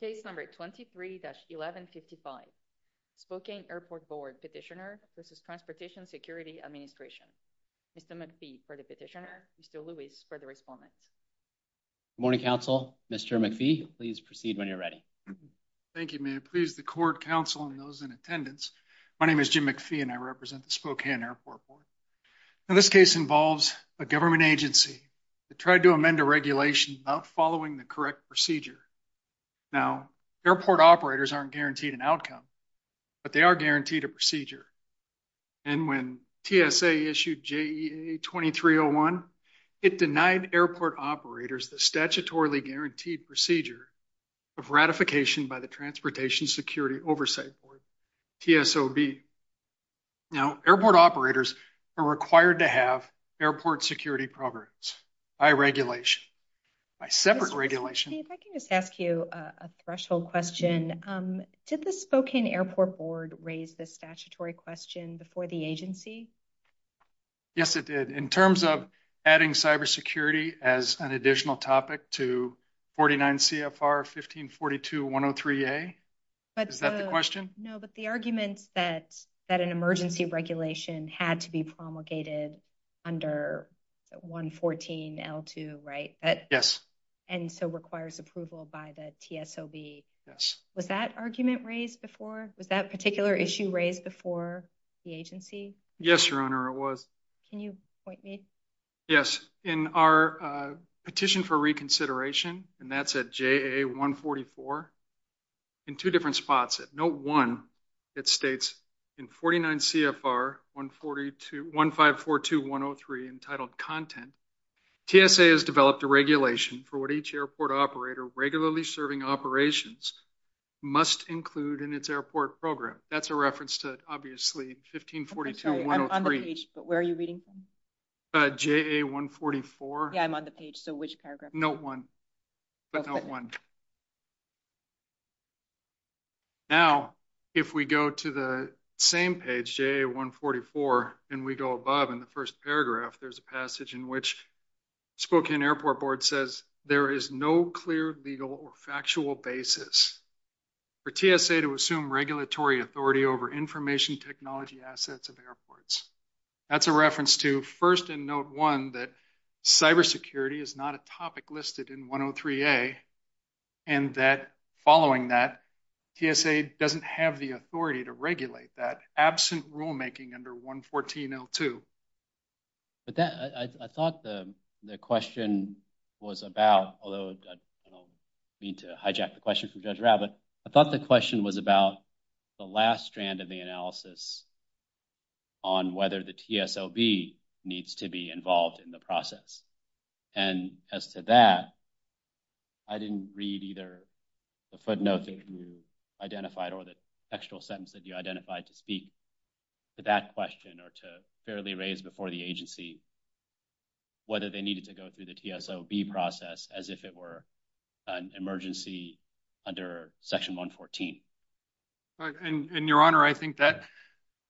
Case number 23-1155, Spokane Airport Board, Petitioner v. Transportation Security Administration. Mr. McPhee for the Petitioner, Mr. Lewis for the Report. Good morning, counsel. Mr. McPhee, please proceed when you're ready. Thank you. May it please the court, counsel, and those in attendance. My name is Jim McPhee and I represent the Spokane Airport Board. Now this case involves a government agency that tried to amend a regulation not following the correct procedure. Now airport operators aren't guaranteed an outcome, but they are guaranteed a procedure. And when TSA issued JE 23-01, it denied airport operators the statutorily guaranteed procedure of ratification by the Transportation Security Oversight Board, TSOB. Now airport operators are required to airport security programs by regulation, by separate regulation. If I can just ask you a threshold question. Did the Spokane Airport Board raise this statutory question before the agency? Yes, it did. In terms of adding cybersecurity as an additional topic to 49 CFR 1542-103A, is that the question? No, but the argument that an emergency regulation had to be promulgated under 114L2, right? Yes. And so requires approval by the TSOB. Yes. Was that argument raised before? Was that particular issue raised before the agency? Yes, your honor, it was. Can you point me? Yes. In our petition for reconsideration, and that's at JA-144, in two different spots, note one, it states in 49 CFR 1542-103 entitled content, TSA has developed a regulation for what each airport operator regularly serving operations must include in its airport program. That's a reference to, obviously, 1542-103. I'm on the page, but where are you reading from? JA-144. Yeah, I'm on the page. So which paragraph? Note one. Note one. Now, if we go to the same page, JA-144, and we go above in the first paragraph, there's a passage in which Spokane Airport Board says, there is no clear legal or factual basis for TSA to assume regulatory authority over information technology assets of airports. That's a reference to, first in note one, that cybersecurity is not a topic listed in 103-A, and that following that, TSA doesn't have the authority to regulate that absent rulemaking under 114-02. But that, I thought the question was about, although I don't mean to hijack the question from Judge Rao, but I thought the question was about the last strand of the analysis on whether the TSOB needs to be involved in the process. And as to that, I didn't read either the footnote that you identified or the textual sentence that you identified to speak to that question or to fairly raise before the agency whether they needed to go through the TSOB process as if it were an emergency under Section 114. And your honor, I think that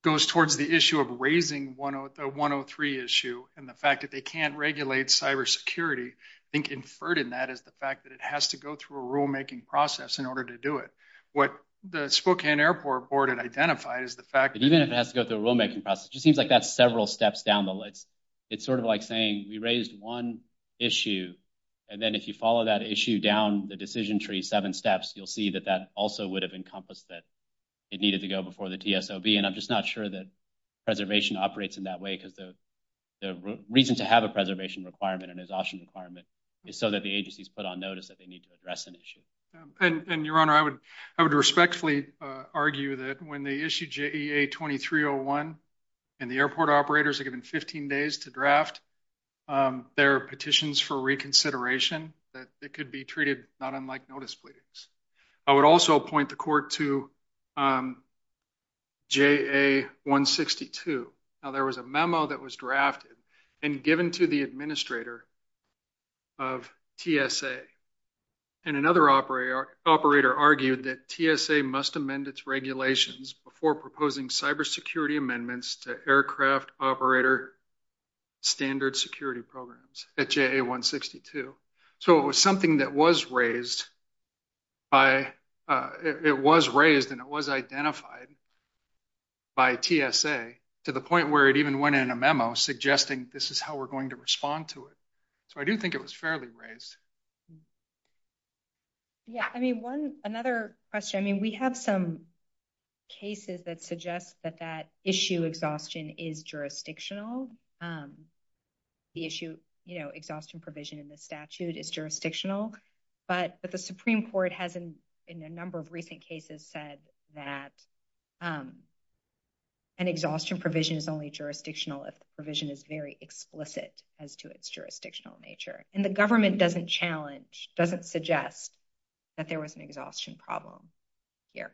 goes towards the issue of raising the 103 issue and the fact that they can't regulate cybersecurity. I think inferred in that is the fact that it has to go through a rulemaking process in order to do it. What the Spokane Airport Board had identified is the fact that even if it has to go through a rulemaking process, it just seems like that's several steps down the list. It's sort of like saying, we raised one issue, and then if you follow that issue down the decision tree, seven steps, you'll see that that also would have encompassed that it needed to go before the TSOB. And I'm just not sure that preservation operates in that way, because the reason to have a preservation requirement and exhaustion requirement is so that the agency's put on notice that they need to address an issue. And your honor, I would respectfully argue that when they issue JEA 2301, and the airport operators are given 15 days to draft their petitions for reconsideration, that it could be treated not unlike notice pleadings. I would also point the court to JEA 162. Now, there was a memo that was drafted and given to the administrator of TSA. And another operator argued that TSA must amend its regulations before proposing cybersecurity amendments to aircraft operator standard security programs at JEA 162. So it was something that was raised and it was identified by TSA to the point where it even went in a memo suggesting this is how we're going to respond to it. So I do think it was fairly raised. Yeah. I mean, another question. I mean, we have some cases that suggest that that issue is jurisdictional. The issue, you know, exhaustion provision in the statute is jurisdictional. But the Supreme Court has in a number of recent cases said that an exhaustion provision is only jurisdictional if the provision is very explicit as to its jurisdictional nature. And the government doesn't challenge, doesn't suggest that there was an exhaustion problem here.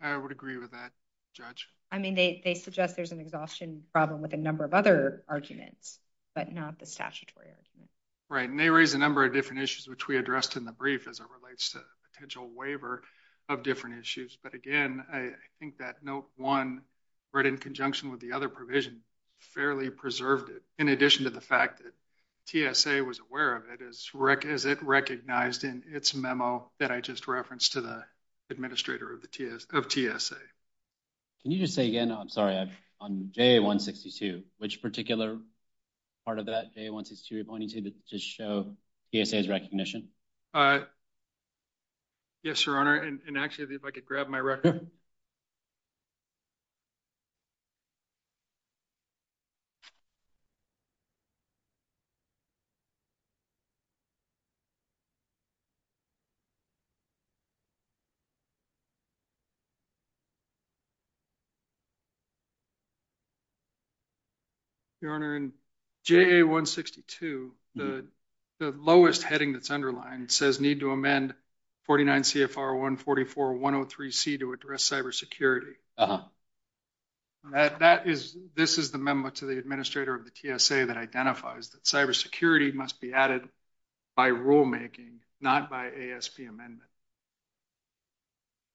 I would agree with that, Judge. I mean, they suggest there's an exhaustion problem with a number of other arguments, but not the statutory argument. Right. And they raised a number of different issues, which we addressed in the brief as it relates to potential waiver of different issues. But again, I think that note one, right in conjunction with the other provision, fairly preserved it. In addition to the fact that TSA was aware of it as it recognized in its memo that I just referenced to the administrator of TSA. Can you just say again, I'm sorry, on J-162, which particular part of that J-162 you're pointing to to show TSA's recognition? Yes, Your Honor. And actually, if I could grab my Your Honor, in J-162, the lowest heading that's underlined says need to amend 49 CFR 144-103C to address cybersecurity. This is the memo to the administrator of the TSA that identifies that cybersecurity must be added by rulemaking, not by ASP amendment.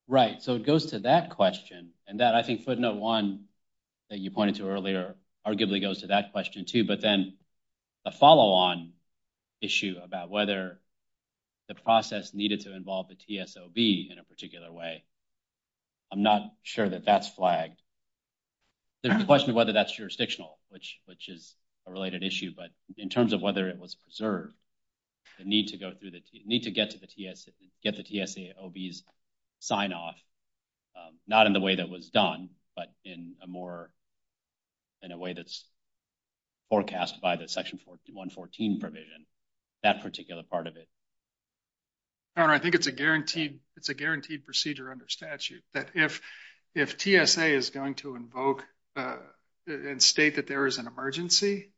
Right. So it goes to that question and that I think footnote one that you pointed to earlier, arguably goes to that question too, but then a follow-on issue about whether the process needed to involve the TSOB in a particular way. I'm not sure that that's flagged. There's a question of whether that's jurisdictional, which is a related issue, but in terms of whether it was preserved, the need to go through the, need to get to the TSA, get the TSAOB's sign off, not in the way that was done, but in a more, in a way that's forecast by the Section 114 provision, that particular part of it. Your Honor, I think it's a guaranteed, it's a guaranteed procedure under statute that if, if TSA is going to invoke and state that there is an emergency,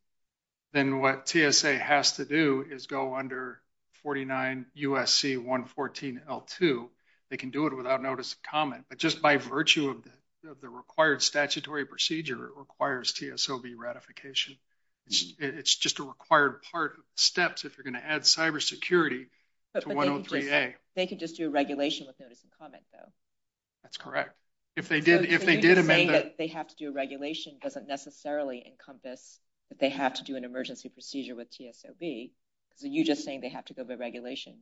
then what TSA has to do is go under 49 USC 114 L2. They can do it without notice of comment, but just by virtue of the required statutory procedure, it requires TSOB ratification. It's just a required part of steps if you're going to add cybersecurity to 103A. They could just do a regulation with notice and comment though. That's correct. If they did, if they did amend it. They have to do a regulation doesn't necessarily encompass that they have to do an emergency procedure with TSOB. You just saying they have to go by regulation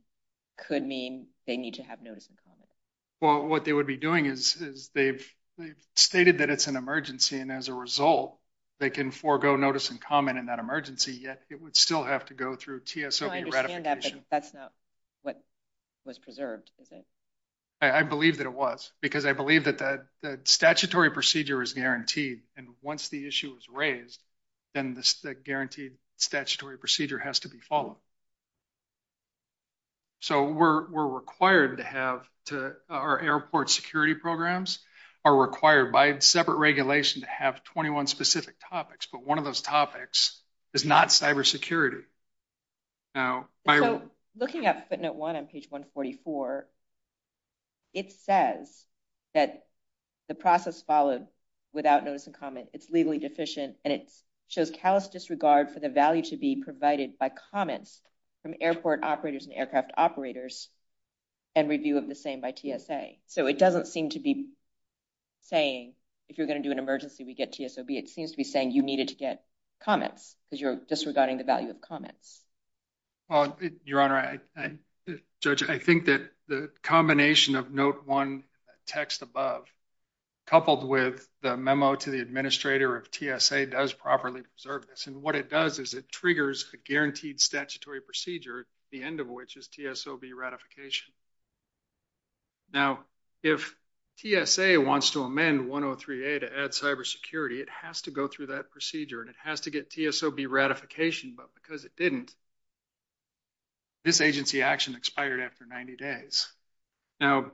could mean they need to have notice and comment. Well, what they would be doing is they've stated that it's an emergency, and as a result, they can forego notice and comment in that emergency, yet it would still have to go through TSOB ratification. I understand that, but that's not what was preserved, is it? I believe that it was, because I believe that the statutory procedure is guaranteed. And once the issue is raised, then the guaranteed statutory procedure has to be followed. So we're, we're required to have to, our airport security programs are required by separate regulation to have 21 specific topics, but one of those topics is not cybersecurity. Now, looking at footnote one on page 144, it says that the process followed without notice and comment. It's legally deficient and it shows callous disregard for the value to be provided by comments from airport operators and aircraft operators and review of the same by TSA. So it doesn't seem to be saying if you're going to do an emergency, we get TSOB. It seems to be saying you needed to get comments because you're disregarding the value of comments. Well, Your Honor, I, Judge, I think that the combination of note one text above coupled with the memo to the administrator of TSA does properly preserve this. And what it does is it triggers a guaranteed statutory procedure, the end of which is TSOB ratification. Now, if TSA wants to amend 103A to add cybersecurity, it has to go through that procedure and it has to get TSOB ratification, but because it didn't, this agency action expired after 90 days. Now,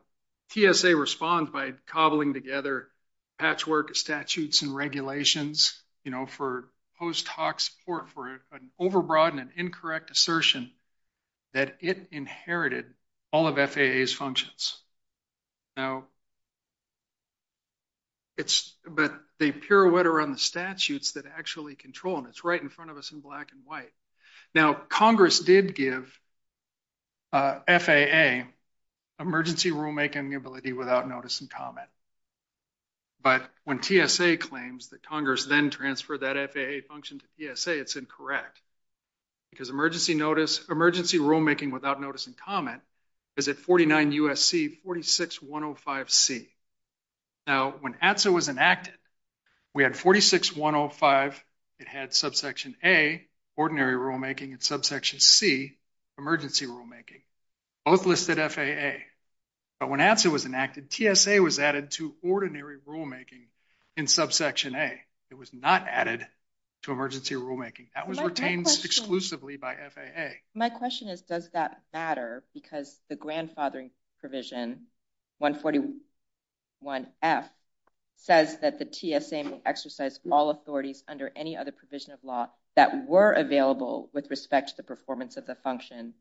TSA responds by cobbling together patchwork statutes and regulations, you know, for post hoc support for an overbroadened and incorrect assertion that it inherited all of FAA's functions. Now, it's, but they pirouette around the statutes that actually control them. It's right in front of us in black and white. Now, Congress did give FAA emergency rulemaking ability without notice and comment. But when TSA claims that Congress then transferred that FAA function to TSA, it's incorrect because emergency notice, emergency rulemaking without notice and comment is at 49 USC 46105C. Now, when APSA was enacted, we had 46105, it had subsection A, ordinary rulemaking, and subsection C, emergency rulemaking, both listed FAA. But when APSA was enacted, TSA was added to ordinary rulemaking in subsection A. It was not added to emergency rulemaking. That was retained exclusively by FAA. My question is, does that matter? Because the grandfathering provision 141F says that the TSA will exercise all authorities under any other provision of law that were available with respect to the performance of the function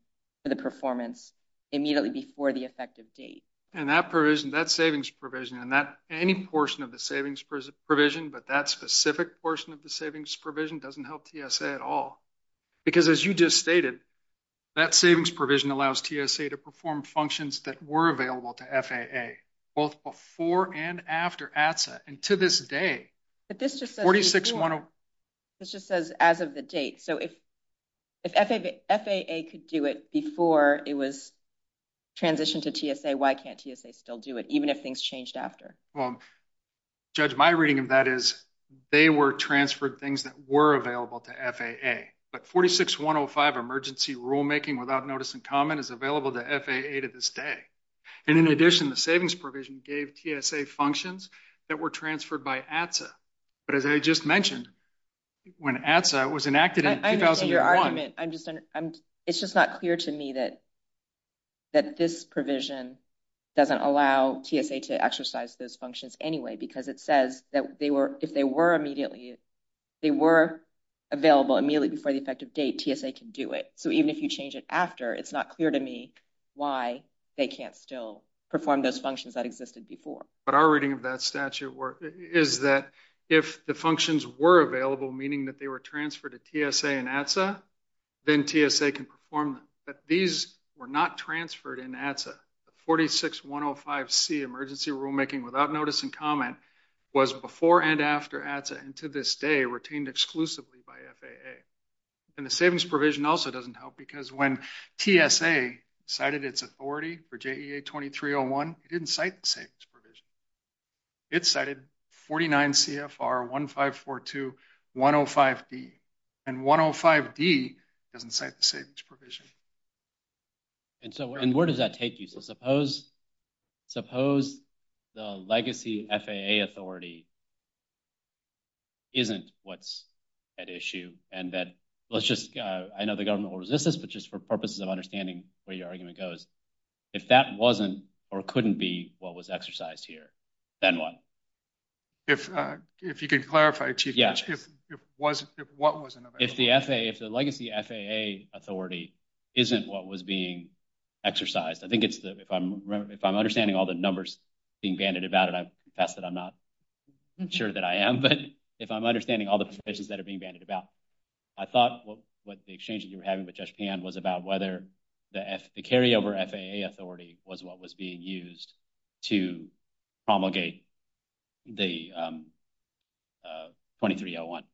to the performance immediately before the effective date. And that provision, that savings provision, and that any portion of the savings provision, but that specific portion of the savings provision doesn't help TSA at all. Because as you just stated, that savings provision allows TSA to perform functions that were available to FAA, both before and after ATSA, and to this day, 46105. As of the date, so if FAA could do it before it was transitioned to TSA, why can't TSA still do it, even if things changed after? Well, Judge, my reading of that is they were transferred things that were available to FAA. But 46105, emergency rulemaking without notice in common, is available to FAA to this day. And in addition, the savings provision gave TSA functions that were transferred by ATSA. But as I just mentioned, when ATSA was enacted in 2001- I understand your argument. It's just not clear to me that this provision doesn't allow TSA to exercise those functions anyway. Because it says that if they were available immediately before the effective date, TSA can do it. So even if you change it after, it's not clear to me why they can't still perform those functions that existed before. But our reading of that statute is that if the functions were available, meaning that they were transferred to TSA and ATSA, then TSA can perform them. But these were not transferred in ATSA. The 46105C, emergency rulemaking without notice in common, was before and after ATSA, and to this day, retained exclusively by FAA. And the savings provision also doesn't help, because when TSA cited its authority for JEA-2301, it didn't cite the savings provision. It cited 49CFR-1542-105D. And 105D doesn't cite the savings provision. And so where does that take you? So suppose the legacy FAA authority isn't what's at issue, and that let's just, I know the government will resist this, but just for purposes of understanding where your argument goes, if that wasn't or couldn't be what was exercised here, then what? If you could clarify, Chief, if what was an event? If the FAA, if the legacy FAA authority isn't what was being exercised. I think it's, if I'm understanding all the numbers being banded about it, I confess that I'm not I'm sure that I am, but if I'm understanding all the places that are being banded about, I thought what the exchanges you were having with Judge Pam was about whether the carryover FAA authority was what was being used to promulgate the 2301.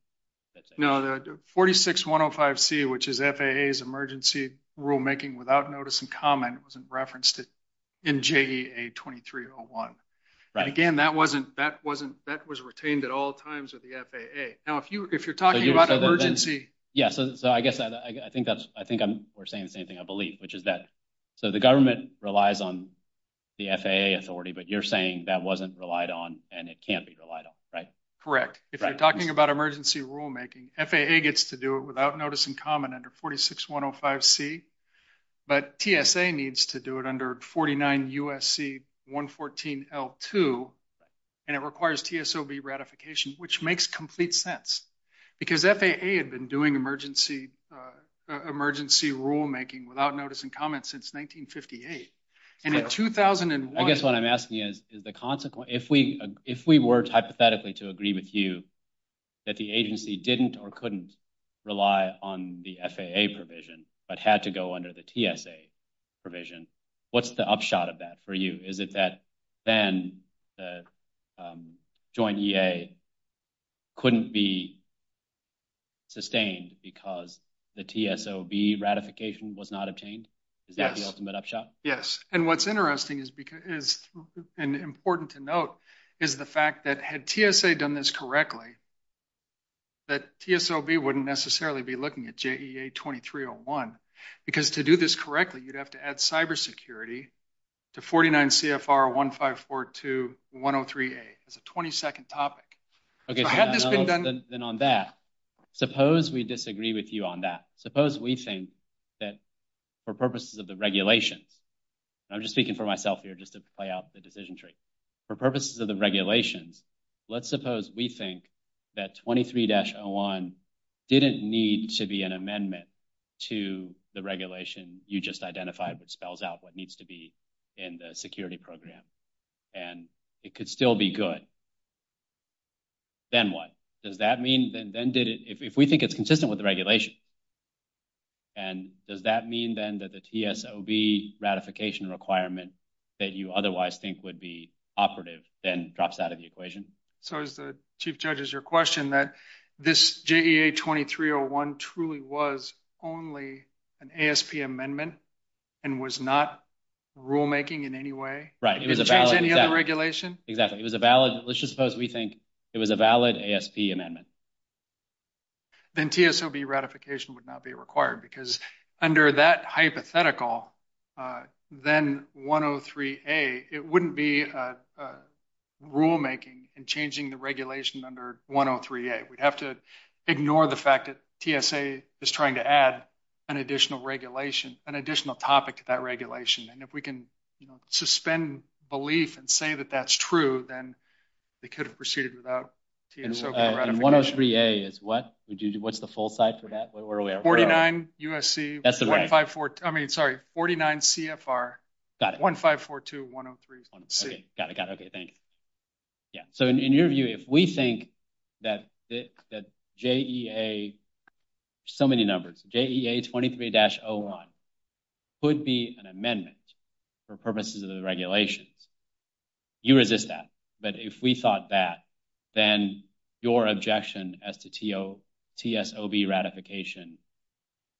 No, the 46-105C, which is FAA's emergency rulemaking without notice in common, wasn't referenced in JEA 2301. And again, that wasn't, that wasn't, that was retained at all times with the FAA. Now, if you, if you're talking about emergency. Yes. So I guess I think that's, I think we're saying the same thing, I believe, which is that, so the government relies on the FAA authority, but you're saying that wasn't relied on and it can't be relied on, right? Correct. If you're talking about emergency rulemaking, FAA gets to do it without notice in common under 46-105C, but TSA needs to do it under 49 U.S.C. 114L2, and it requires TSOB ratification, which makes complete sense because FAA had been doing emergency rulemaking without notice in common since 1958. And in 2001... I guess what I'm asking is, is the consequence, if we, if we worked hypothetically to agree with you that the agency didn't or couldn't rely on the FAA provision, but had to go under the TSA provision, what's the upshot of that for you? Is it that then the joint EA couldn't be sustained because the TSOB ratification was not obtained? Is that the upshot? Yes. And what's interesting is because, and important to note, is the fact that had TSA done this correctly, that TSOB wouldn't necessarily be looking at JEA 2301, because to do this correctly, you'd have to add cybersecurity to 49 CFR 1542-103A. It's a 20-second topic. Okay. So had this been done... Then on that, suppose we disagree with you on that. Suppose we think that for purposes of the regulation, and I'm just speaking for myself here just to play out the decision For purposes of the regulation, let's suppose we think that 23-01 didn't need to be an amendment to the regulation you just identified that spells out what needs to be in the security program, and it could still be good. Then what? Does that mean, then did it, if we think it's consistent with the regulation, and does that mean then that the TSOB ratification requirement that you otherwise think would be operative then drops out of the equation? So as the chief judge is your question, that this JEA 2301 truly was only an ASP amendment and was not rulemaking in any way? Right. It was a valid regulation? Exactly. It was a valid... Let's just suppose we think it was a valid ASP amendment. Then TSOB ratification would not be required because under that hypothetical, then 103A, it wouldn't be rulemaking and changing the regulation under 103A. We'd have to ignore the fact that TSA is trying to add an additional regulation, an additional topic to that regulation, and if we can suspend belief and say that that's true, then they could have proceeded without TSOB ratification. And 103A is what? What's the full type of that? 49 USC... I mean, sorry. 49 CFR 1542-103C. Got it. Got it. Okay. Thank you. Yeah. So in your view, if we think that JEA... So many numbers. JEA 23-01 could be an amendment for purposes of the regulation, you resist that. But if we thought that, then your objection as to TSOB ratification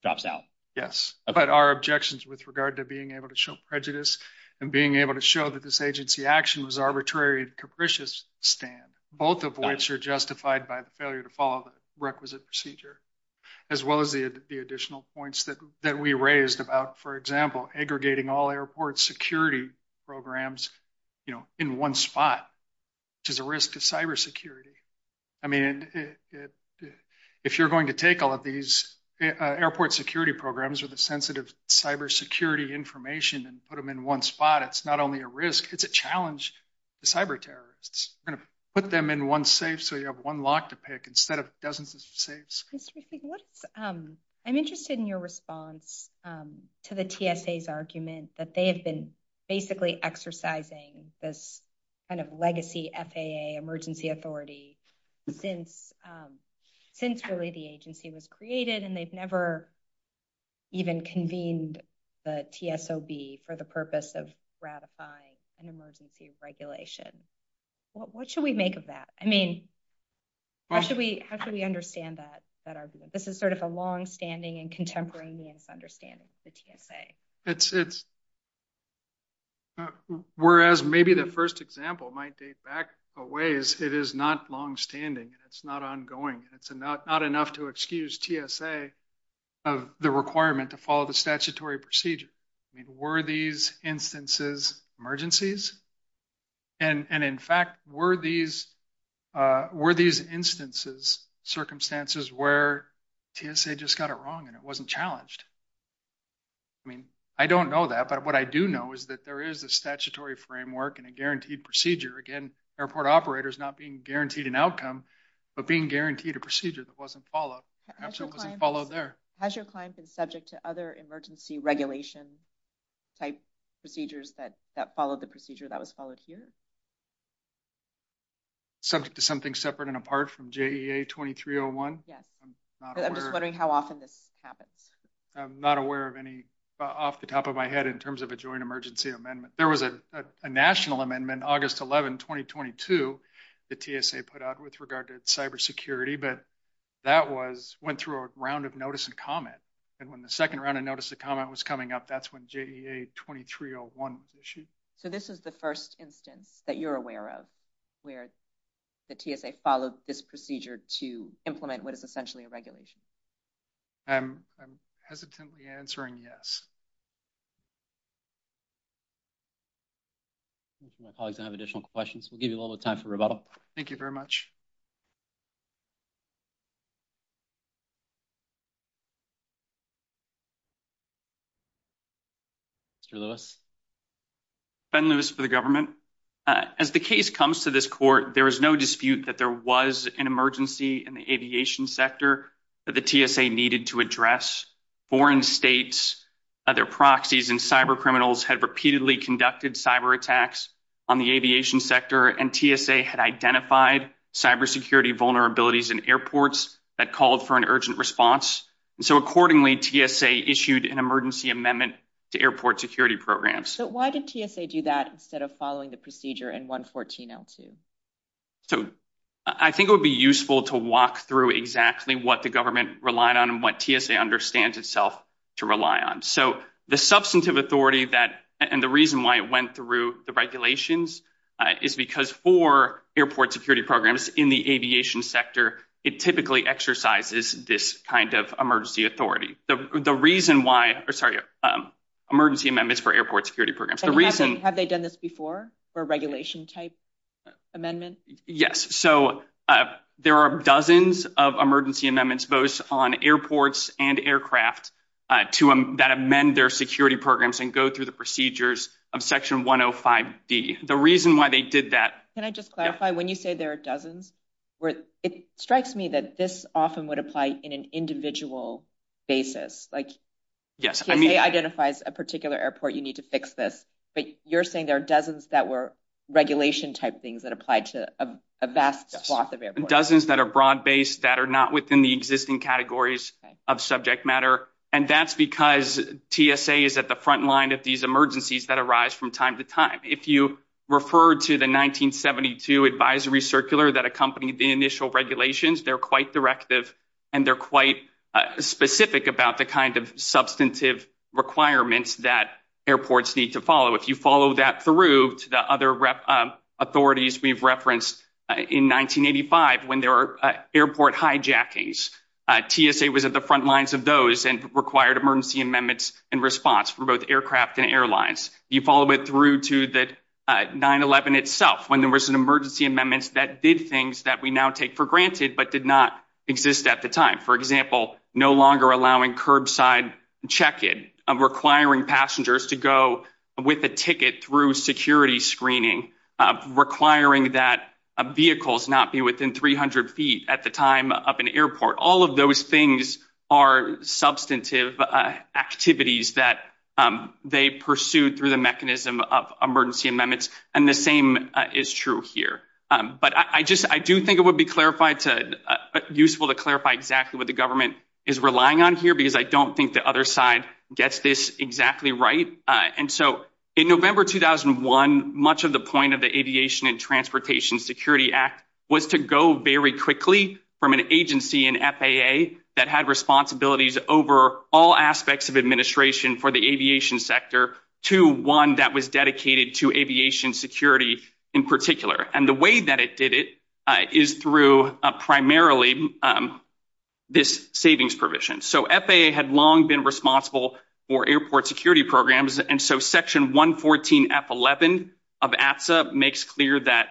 drops out. Yes. But our objections with regard to being able to show prejudice and being able to show that this agency action was arbitrary and capricious stand, both of which are justified by the failure to follow the requisite procedure, as well as the additional points that we raised about, for in one spot, which is a risk to cybersecurity. I mean, if you're going to take all of these airport security programs or the sensitive cybersecurity information and put them in one spot, it's not only a risk, it's a challenge to cyber terrorists. Put them in one safe, so you have one lock to pick instead of dozens of safes. I'm interested in your response to the TSA's argument that they have been basically exercising this kind of legacy FAA emergency authority since really the agency was created and they've never even convened the TSOB for the purpose of ratifying an emergency regulation. What should we make of that? I mean, how should we understand that argument? This is a longstanding and contemporary understanding of the TSA. Whereas maybe the first example might date back a ways, it is not longstanding. It's not ongoing. It's not enough to excuse TSA of the requirement to follow the statutory procedure. Were these instances emergencies? And in fact, were these instances circumstances where TSA just got it wrong and it wasn't challenged? I mean, I don't know that, but what I do know is that there is a statutory framework and a guaranteed procedure. Again, airport operators not being guaranteed an outcome, but being guaranteed a procedure that wasn't followed. It wasn't followed there. Has your client been subject to other emergency regulation type procedures that followed the procedure that was followed here? Something separate and apart from JEA 2301? Yes. I'm just wondering how often this happens. I'm not aware of any off the top of my head in terms of a joint emergency amendment. There was a national amendment, August 11, 2022, that TSA put out with regard to cybersecurity, but that went through a round of notice and comment. And when the second round of notice and comment was coming up, that's when JEA 2301 was issued. So this is the first instance that you're aware of where the TSA followed this procedure to implement what is essentially a regulation? I'm hesitantly answering yes. My colleagues don't have additional questions. We'll give you a little time for rebuttal. Thank you very much. Mr. Lewis? Ben Lewis for the government. As the case comes to this court, there was no dispute that there was an emergency in the aviation sector that the TSA needed to address. Foreign states, other proxies, and cybercriminals had repeatedly conducted cyberattacks on the aviation sector, and TSA had identified cybersecurity vulnerabilities in airports that called for an urgent response. So accordingly, TSA issued an emergency amendment to airport security programs. So why did TSA do that instead of following the procedure in 114-02? So I think it would be useful to walk through exactly what the government relied on and what TSA understands itself to rely on. So the substantive authority that, and the reason why it went through the regulations is because for airport security programs in the aviation sector, it typically exercises this kind of emergency authority. The reason why, or sorry, emergency amendments for airport security programs. Have they done this before for a regulation type amendment? Yes. So there are dozens of emergency amendments, both on airports and aircraft that amend their security programs and go through the procedures of section 105D. The reason why they did that- Can I just clarify, when you say there are dozens, it strikes me that this often would apply in an individual basis. Like- Yes, I mean- TSA identifies a particular airport, you need to fix this. But you're saying there are dozens that were regulation type things that applied to a vast swath of airports. Dozens that are broad-based, that are not within the existing categories of subject matter. And that's because TSA is at the front line of these emergencies that arise from time to time. If you refer to the 1972 advisory circular that accompanied the initial regulations, they're quite directive and they're quite specific about the kind of substantive requirements that airports need to follow. If you follow that through to the other authorities we've referenced in 1985, when there were airport hijackings, TSA was at the airlines. You follow it through to the 9-11 itself, when there was an emergency amendment that did things that we now take for granted, but did not exist at the time. For example, no longer allowing curbside check-in, requiring passengers to go with a ticket through security screening, requiring that vehicles not be within 300 feet at the time of an airport. All of those things are substantive activities that they pursued through the mechanism of emergency amendments, and the same is true here. But I do think it would be useful to clarify exactly what the government is relying on here, because I don't think the other side gets this exactly right. And so, in November 2001, much of the point of the Aviation and Transportation Security Act was to go very quickly from an agency, an FAA, that had responsibilities over all aspects of administration for the aviation sector, to one that was dedicated to aviation security in particular. And the way that it did it is through primarily this savings provision. So, FAA had long been responsible for airport security programs, and so Section 114 F-11 of ATSA makes clear that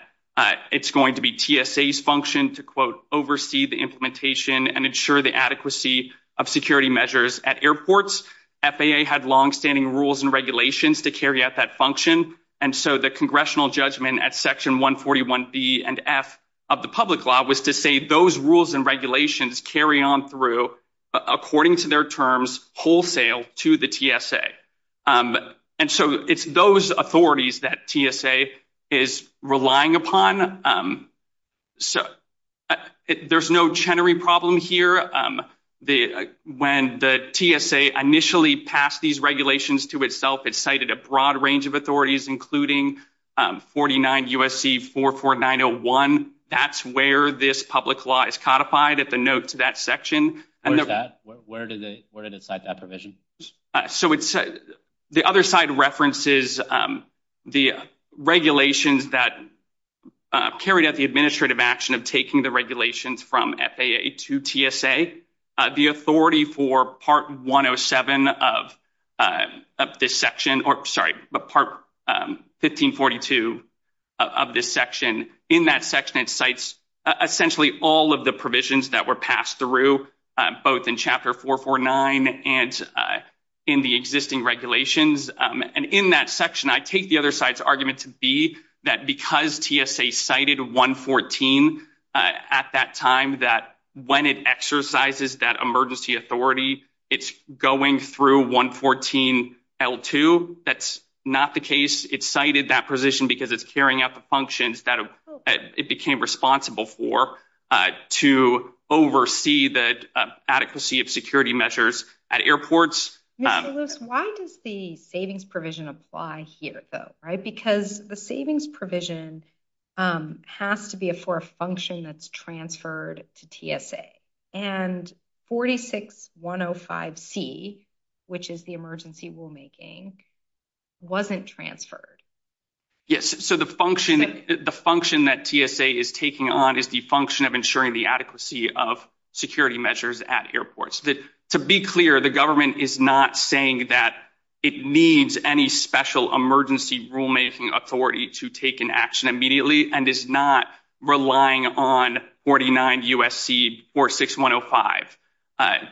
it's going to be TSA's function to, quote, oversee the implementation and ensure the adequacy of security measures at airports. FAA had long-standing rules and regulations to carry out that function, and so the congressional judgment at Section 141 B and F of the public law was to say those rules and regulations carry on through according to their wholesale to the TSA. And so, it's those authorities that TSA is relying upon. So, there's no Chenery problem here. When the TSA initially passed these regulations to itself, it cited a broad range of authorities, including 49 U.S.C. 44901. That's where this public law is codified. It's a note to that section. Where is that? Where did it cite that provision? So, the other side references the regulations that carried out the administrative action of taking the regulations from FAA to TSA. The authority for Part 107 of this section, or, Part 1542 of this section, in that section, it cites essentially all of the provisions that were passed through, both in Chapter 449 and in the existing regulations. And in that section, I take the other side's argument to be that because TSA cited 114 at that time, that when it exercises that emergency authority, it's going through 114 L-2. That's not the case. It cited that position because it's carrying out the functions that it became responsible for to oversee the adequacy of security measures at airports. Why does the savings provision apply here, though? Because the savings provision has to be for a function that's transferred to TSA. And 46105C, which is the emergency rulemaking, wasn't transferred. Yes. So, the function that TSA is taking on is the function of ensuring the adequacy of security measures at airports. To be clear, the government is not saying that it needs any special rulemaking authority to take an action immediately, and is not relying on 49 U.S.C. 46105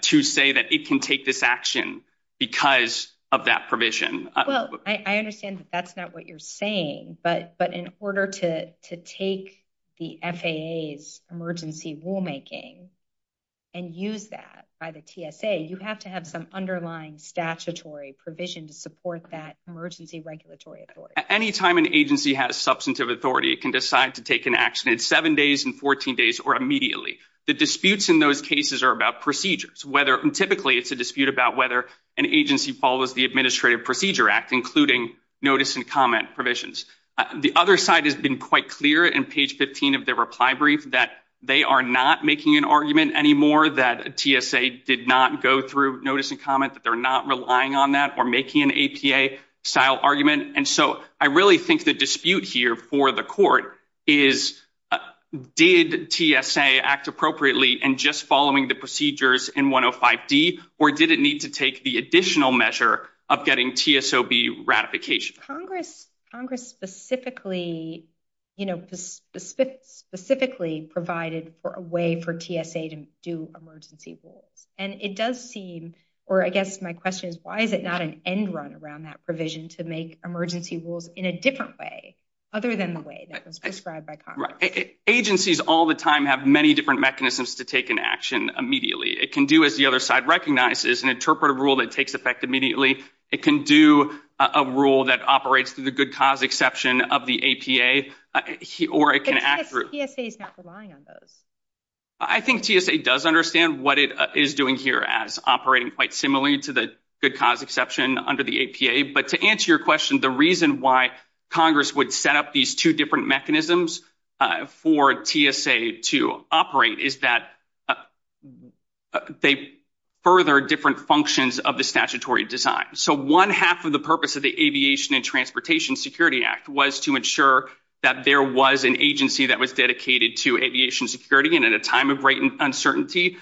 to say that it can take this action because of that provision. Well, I understand that that's not what you're saying, but in order to take the FAA's emergency rulemaking and use that by the TSA, you have to have some underlying statutory provision to that emergency regulatory authority. Anytime an agency has substantive authority, it can decide to take an action in 7 days, in 14 days, or immediately. The disputes in those cases are about procedures. Typically, it's a dispute about whether an agency follows the Administrative Procedure Act, including notice and comment provisions. The other side has been quite clear in page 15 of the reply brief that they are not making an argument anymore that TSA did not go through notice and comment, that they're not relying on that, or making an APA-style argument. I really think the dispute here for the court is, did TSA act appropriately in just following the procedures in 105D, or did it need to take the additional measure of getting TSOB ratification? Congress specifically provided a way for TSA to do emergency rules. It does seem, or I guess my question is, why is it not an end run around that provision to make emergency rules in a different way, other than the way that was described by Congress? Agencies all the time have many different mechanisms to take an action immediately. It can do, as the other side recognizes, an interpretive rule that takes effect immediately. It can do a rule that operates through the good cause exception of the APA, or it can act through- TSA is not relying on those. I think TSA does understand what it is doing here as operating quite similarly to the good cause exception under the APA, but to answer your question, the reason why Congress would set up these two different mechanisms for TSA to operate is that they further different functions of the statutory design. So one half of the purpose of the Aviation and Transportation Security Act was to ensure that there was an agency that was dedicated to aviation security, and at a time of great uncertainty,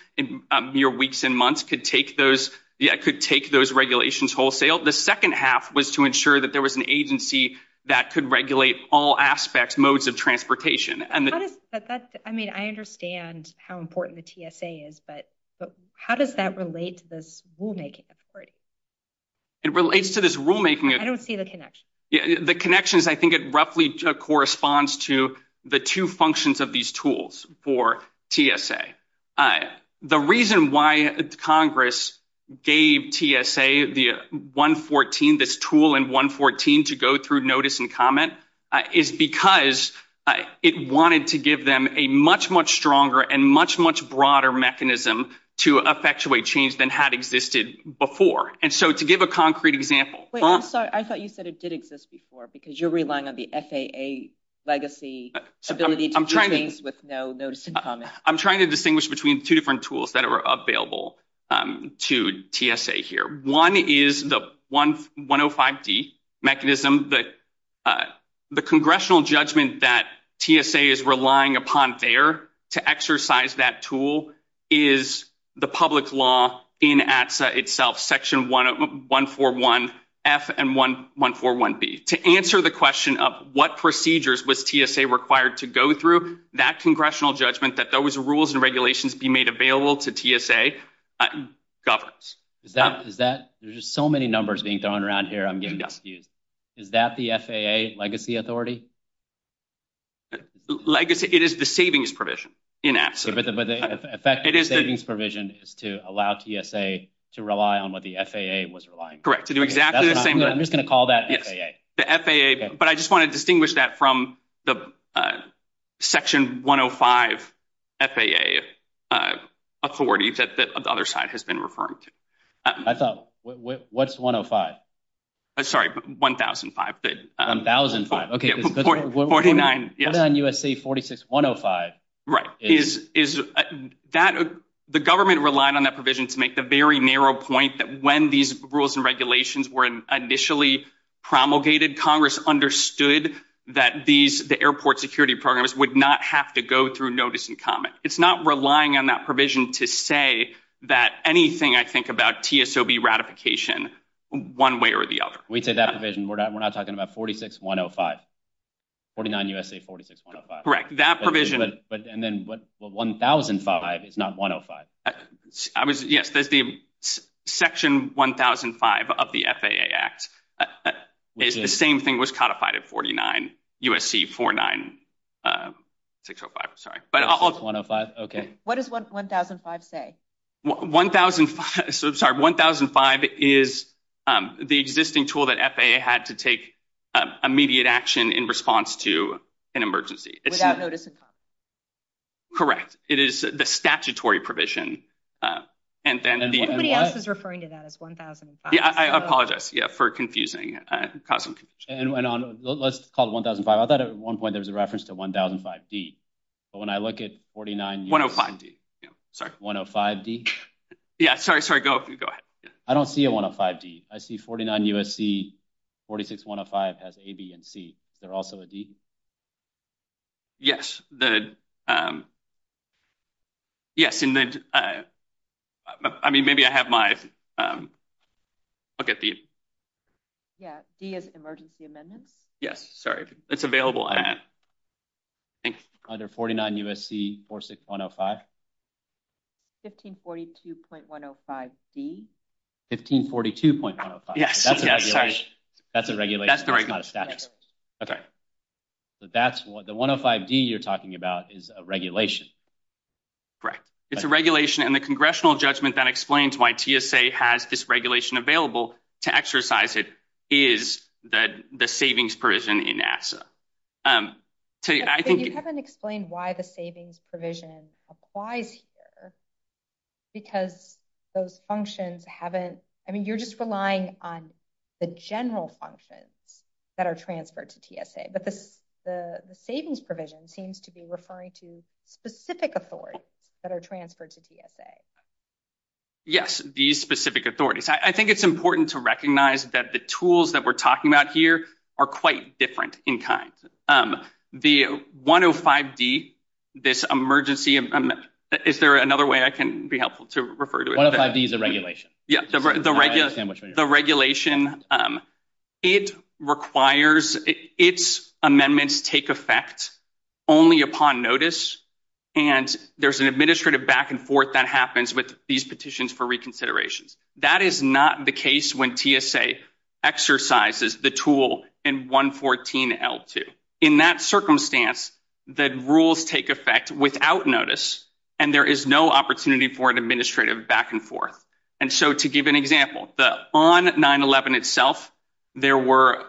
your weeks and months could take those regulations wholesale. The second half was to ensure that there was an agency that could regulate all aspects, modes of transportation. I mean, I understand how important the TSA is, but how does that relate to rulemaking? It relates to this rulemaking- I don't see the connection. The connections, I think it roughly corresponds to the two functions of these tools for TSA. The reason why Congress gave TSA the 114, this tool in 114, to go through notice and comment is because it wanted to give them a much, much stronger and much, much broader mechanism to effectuate change than had existed before. And so to give a concrete example- Wait, I'm sorry. I thought you said it did exist before because you're relying on the FAA legacy ability to do things with no notice and comment. I'm trying to distinguish between two different tools that are available to TSA here. One is the 105D mechanism. The congressional judgment that TSA is relying upon there to exercise that tool is the public law in ATSA itself, section 141F and 141B. To answer the question of what procedures was TSA required to go through, that congressional judgment that those rules and regulations be made available to TSA governs. There's so many numbers being thrown around here, I'm getting confused. Is that the FAA legacy authority? Legacy, it is the savings provision in ATSA. But the effective savings provision is to allow TSA to rely on what the FAA was relying on. Correct, to do exactly the same thing. I'm just going to call that the FAA. The FAA, but I just want to distinguish that from the section 105 FAA authorities that the other side has been referring to. I thought, what's 105? Sorry, but 1005. 1005. Okay, 49. 49 U.S.C. 46105. Right. The government relied on that provision to make the very narrow point that when these rules and regulations were initially promulgated, Congress understood that the airport security programs would not have to go through notice and comment. It's not relying on that provision to say that anything I think about TSOB ratification, one way or the other. We said that provision, we're not talking about 46105. 49 U.S.C. 46105. Correct. That provision. And then what, 1005, it's not 105. Yes, that's the section 1005 of the FAA Act. The same thing was codified at 49 U.S.C. 49605, I'm sorry. Okay. What does 1005 say? 1005, I'm sorry, 1005 is the existing tool that FAA had to take immediate action in response to an emergency. Without notice and comment. Correct. It is the statutory provision. And then the... Somebody else is referring to that as 1005. Yeah, I apologize for confusing, causing confusion. And on, let's call it 1005. I thought at one point there was a reference to 1005D, but when I look at 49 U.S.C. 105D, yeah, sorry. Sorry, go ahead. I don't see a 105D. I see 49 U.S.C. 46105 has A, B, and C. They're also a D? Yes. Yes. I mean, maybe I have my, look at these. Yeah, D is emergency amendment. Yes, sorry. It's available. Under 49 U.S.C. 46105. 1542.105D. 1542.105D. Yes. That's the regulation. That's the regulation. Okay. That's what the 105D you're talking about is a regulation. Right. It's a regulation and the congressional judgment that explains why TSA has this regulation available to exercise it is that the savings provision in ASSA. I think... I haven't explained why the savings provision applies here because those functions haven't... I mean, you're just relying on the general functions that are transferred to TSA, but the savings provision seems to be referring to specific authorities that are transferred to TSA. Yes, these specific authorities. I think it's important to recognize that the tools that we're talking about here are quite different in time. The 105D, this emergency... Is there another way I can be helpful to refer to it? 105D is the regulation. Yes, the regulation. It requires... Its amendments take effect only upon notice and there's an administrative back and forth that happens with these petitions for reconsideration. That is not the case when TSA exercises the tool in 114L2. In that circumstance, the rules take effect without notice and there is no opportunity for an administrative back and forth. And so to give an example, on 9-11 itself, there were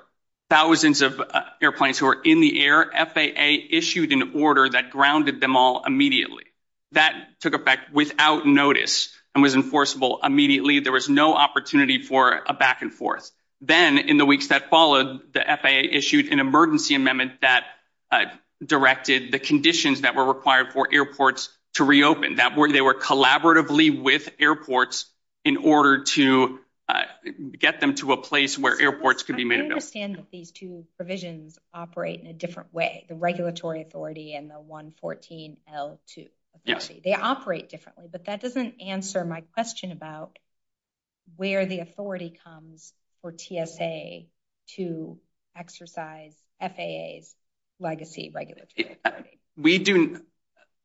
thousands of airplanes who were in the air. FAA issued an order that grounded them all immediately. That took effect without notice and was enforceable immediately. There was no opportunity for a back and forth. Then in the weeks that followed, the FAA issued an emergency amendment that directed the conditions that were required for airports to reopen. They were collaboratively with airports in order to get them to a place where airports could be made available. I understand that these two provisions operate in a different way, the regulatory authority and the 114L2 authority. They operate differently, but that doesn't answer my question about where the authority comes for TSA to exercise FAA's legacy regulatory authority. We do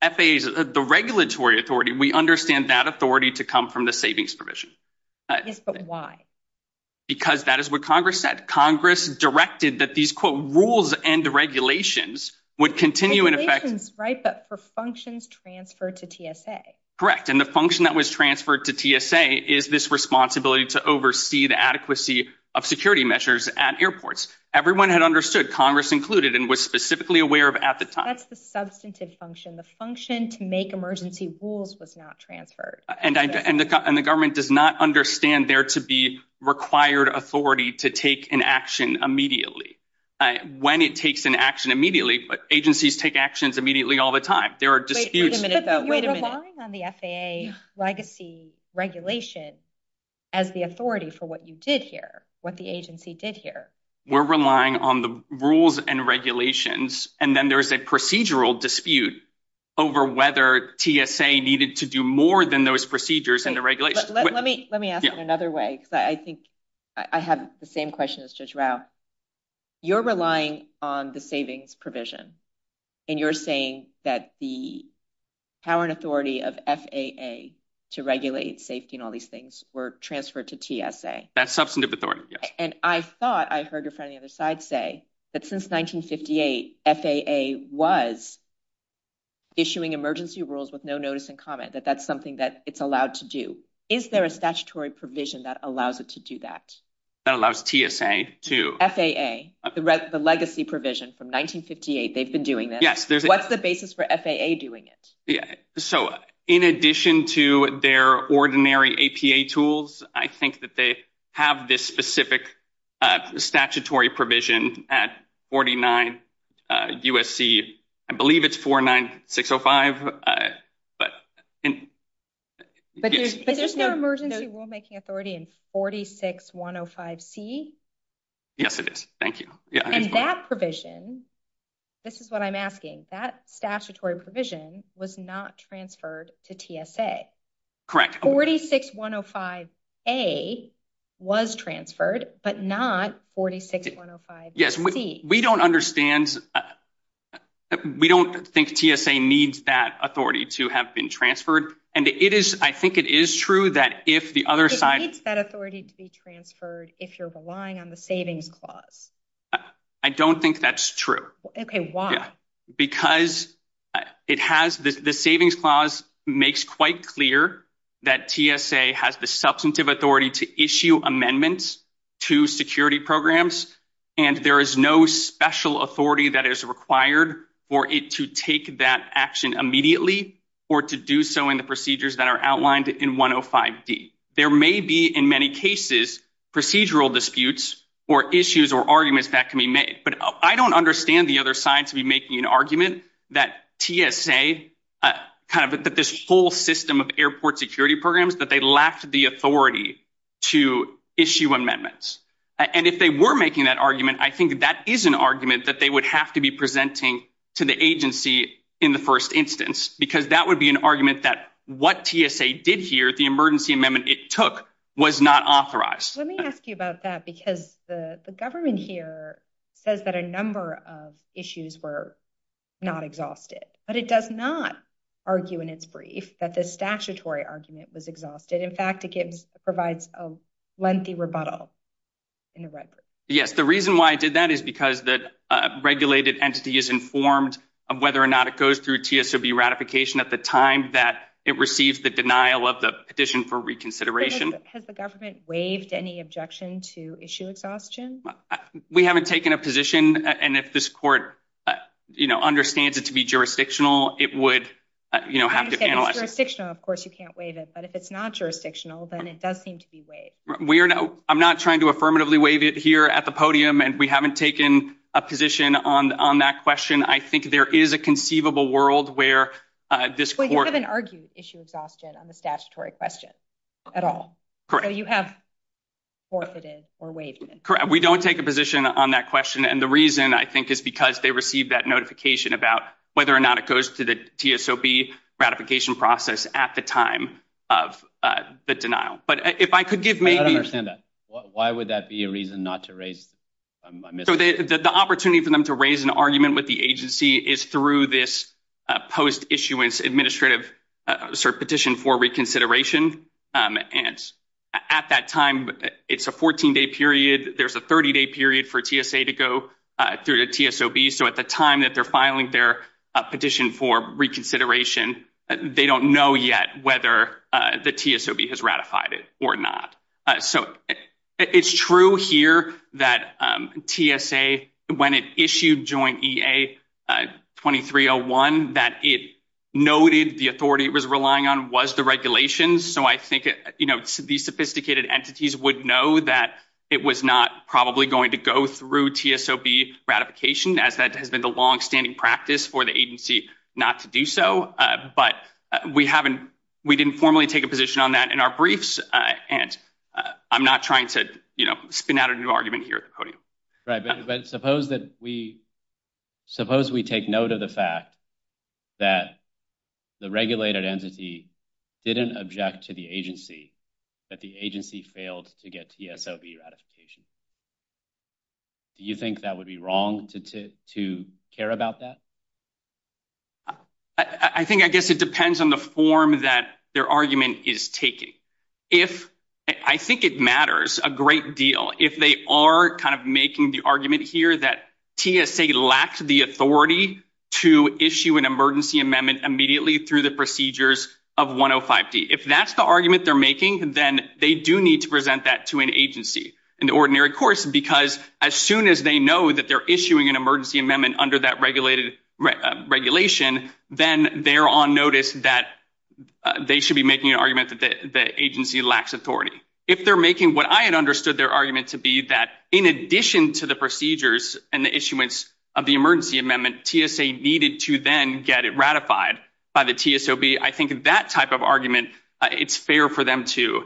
FAA's, the regulatory authority, we understand that authority to come from the savings provision. Yes, but why? Because that is what Congress said. Congress directed that these, quote, rules and regulations would continue in effect. Regulations, right, but for functions transferred to TSA. Correct. And the function that was transferred to TSA is this responsibility to oversee the adequacy of security measures at airports. Everyone had understood, Congress included, and was specifically aware of at the time. That's the substantive function. The function to make emergency rules was not transferred. And the government does not understand there to be required authority to take an action immediately. When it takes an action immediately, agencies take actions immediately all the time. Wait a minute, though. Are you relying on the FAA legacy regulation as the authority for what you did here, what the agency did here? We're relying on the rules and regulations, and then there's a procedural dispute over whether TSA needed to do more than those procedures and the regulations. Let me ask it another way, because I think I have the same question as Judge Rao. You're relying on the savings provision, and you're saying that the power and authority of FAA to regulate safety and all these things were transferred to TSA. That's substantive authority, yes. And I thought I heard your friend on the other side say that since 1958, FAA was issuing emergency rules with no notice and comment, that that's something that it's allowed to do. Is there a statutory provision that allows it to do that? That allows TSA to- FAA, the legacy provision from 1958, they've been doing this. What's the basis for FAA doing it? Yeah. So, in addition to their ordinary APA tools, I think that they have this specific statutory provision at 49 USC, I believe it's 49605. But isn't there emergency rulemaking authority in 46105C? Yes, it is. Thank you. And that provision, this is what I'm asking, that statutory provision was not transferred to TSA. Correct. 46105A was transferred, but not 46105C. Yes, we don't think TSA needs that authority to have been transferred. And I think it is true that if the other side- It needs that authority to be transferred if you're relying on the savings clause. I don't think that's true. Okay, why? Because the savings clause makes quite clear that TSA has the substantive authority to issue amendments to security programs. And there is no special authority that is required for it to take that action immediately or to do so in the procedures that are outlined in 105D. There may be, in many cases, procedural disputes or issues or arguments that can be made. But I don't understand the other side to be making an argument that TSA, kind of this whole system of airport security programs, that they lack the authority to issue amendments. And if they were making that argument, I think that is an argument that they would have to be presenting to the agency in the first instance, because that would be an argument that what TSA did here, the emergency amendment it took, was not authorized. Let me ask you about that, because the government here says that a number of issues were not But it does not argue in its brief that the statutory argument was exhausted. In fact, it provides a lengthy rebuttal in the record. Yes, the reason why I did that is because the regulated entity is informed of whether or not it goes through TSRB ratification at the time that it receives the denial of the petition for reconsideration. Has the government waived any objection to issue exhaustion? We haven't taken a position. And if this court, you know, understands it to be jurisdictional, it would, you know, have to analyze it. If it's jurisdictional, of course, you can't waive it. But if it's not jurisdictional, then it does seem to be waived. I'm not trying to affirmatively waive it here at the podium, and we haven't taken a position on that question. I think there is a conceivable world where this court But you haven't argued issue exhaustion on the statutory question at all. Correct. So you have forfeited or waived it. We don't take a position on that question. And the reason I think is because they received that notification about whether or not it goes to the TSRB ratification process at the time of the denial. But if I could give maybe I don't understand that. Why would that be a reason not to raise? So the opportunity for them to raise an argument with the agency is through this post-issuance administrative petition for reconsideration. And at that time, it's a 14-day period. There's a 30-day period for TSA to go through the TSRB. So at the time that they're filing their petition for reconsideration, they don't know yet whether the TSRB has ratified it or not. So it's true here that TSA, when it issued joint EA 2301, that it noted the authority it was relying on was the regulations. So I think these sophisticated entities would know that it was not probably going to go through TSRB ratification, as that has been the long-standing practice for the agency not to do so. But we didn't formally take a position on that in our briefs. And I'm not trying to spin out a new argument here at the podium. But suppose we take note of the fact that the regulated entity didn't object to the agency, that the agency failed to get TSRB ratification. Do you think that would be wrong to care about that? I think, I guess it depends on the form that their argument is taking. I think it matters a great deal. If they are kind of making the argument here that TSA lacks the authority to issue an emergency amendment immediately through the procedures of 105C. If that's the argument they're making, then they do need to present that to an agency in the ordinary course. Because as soon as they know that they're issuing an emergency amendment under that regulation, then they're on notice that they should be making an argument that the agency lacks authority. If they're making what I had understood their argument to be that in addition to the procedures and the issuance of the emergency amendment, TSA needed to then get it ratified by the TSOB, I think that type of argument, it's fair for them to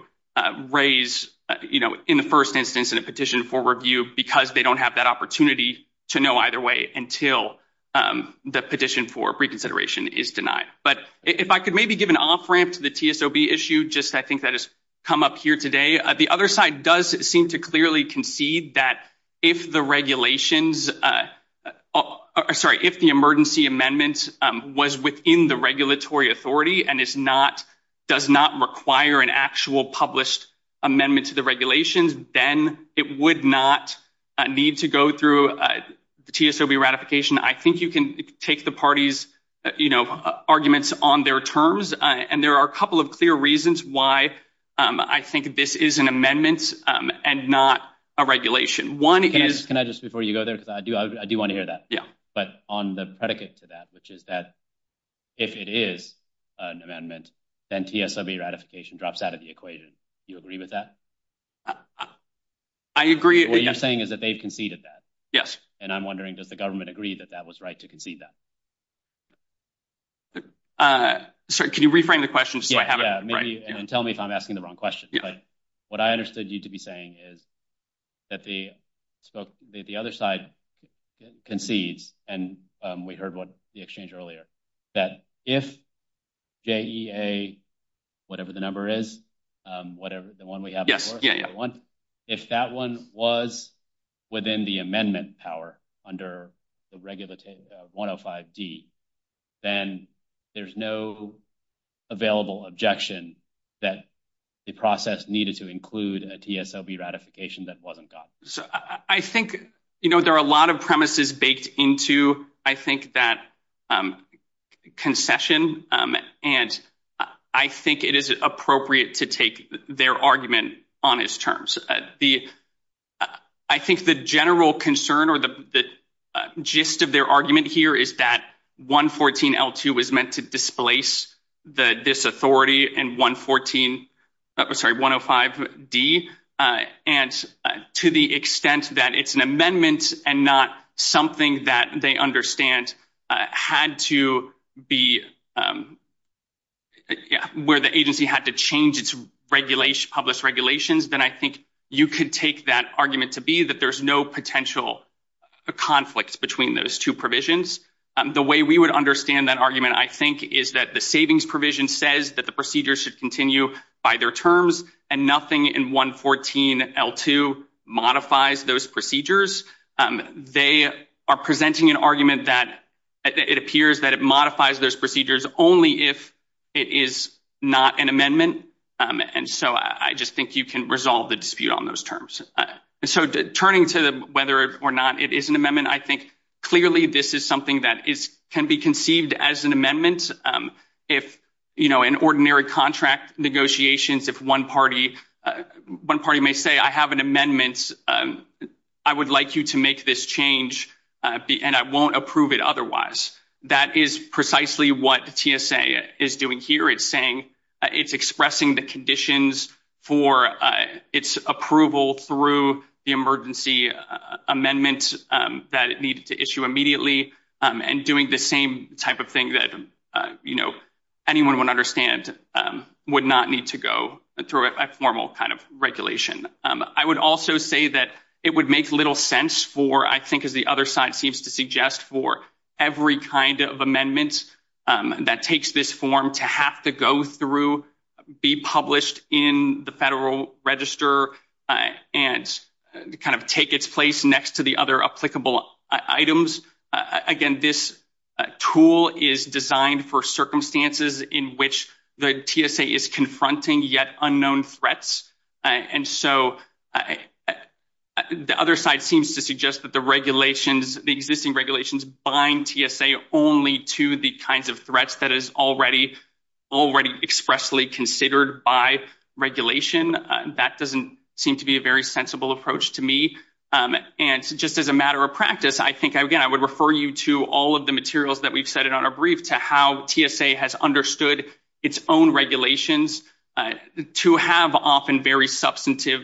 raise, you know, in the first instance, in a petition for review, because they don't have that opportunity to know either way until the petition for reconsideration is denied. But if I could maybe give an off-ramp to the TSOB issue, just I think that has come up here today. The other side does seem to clearly concede that if the regulations, sorry, if the emergency amendment was within the regulatory authority, and it's not, does not require an actual published amendment to the regulations, then it would not need to go through TSOB ratification. I think you can take the parties, you know, arguments on their terms. And there are a couple of clear reasons why I think this is an amendment and not a regulation. One is... Can I just, before you go there, because I do want to hear that. Yeah. But on the predicate to that, which is that if it is an amendment, then TSOB ratification drops out of the equation. Do you agree with that? I agree. What you're saying is that they've conceded that. Yes. And I'm wondering, does the government agree that that was right to concede that? Sorry, can you reframe the question so I have it right? Yeah, and tell me if I'm asking the wrong question. But what I understood you to be saying is that the other side concedes, and we heard what the exchange earlier, that if JEA, whatever the number is, the one we have before, if that one was within the amendment power under the regulative 105D, then there's no available objection that the process needed to include a TSOB ratification that wasn't done. So I think, you know, there are a lot of premises baked into, I think, that concession. And I think it is appropriate to take their argument on its terms. The, I think the general concern or the gist of their argument here is that 114L2 is meant to displace the disauthority in 114, sorry, 105D, and to the extent that it's an amendment and not something that they understand had to be, where the agency had to change its public regulations, then I think you could take that argument to be that there's no potential conflicts between those two provisions. The way we would understand that argument, I think, is that the savings provision says that the procedure should continue by their terms and nothing in 114L2 modifies those procedures. They are presenting an argument that it appears that it modifies those procedures only if it is not an amendment. And so I just think you can resolve the dispute on those terms. So turning to whether or not it is an amendment, I think clearly this is something that is, can be conceived as an amendment. If, you know, in ordinary contract negotiations, if one party, one party may say, I have an amendment, I would like you to make this change and I won't approve it otherwise. That is precisely what TSA is doing here. It's saying, it's expressing the conditions for its approval through the emergency amendments that it needs to issue immediately and doing the same type of thing that, you know, anyone would understand would not need to go through a formal kind of regulation. I would also say that it would make little sense for, I think, as the other side seems to suggest for every kind of amendments that takes this form to have to go through, be published in the federal register and kind of take its place next to the other applicable items. Again, this tool is designed for circumstances in which the TSA is confronting yet unknown threats. And so the other side seems to suggest that the regulations, the existing regulations bind TSA only to the kinds of threats that is already expressly considered by regulation. That doesn't seem to be a very sensible approach to me. And just as a matter of practice, I think, again, I would refer you to all of the materials that we've said it on a brief to how TSA has understood its own regulations to have often very substantive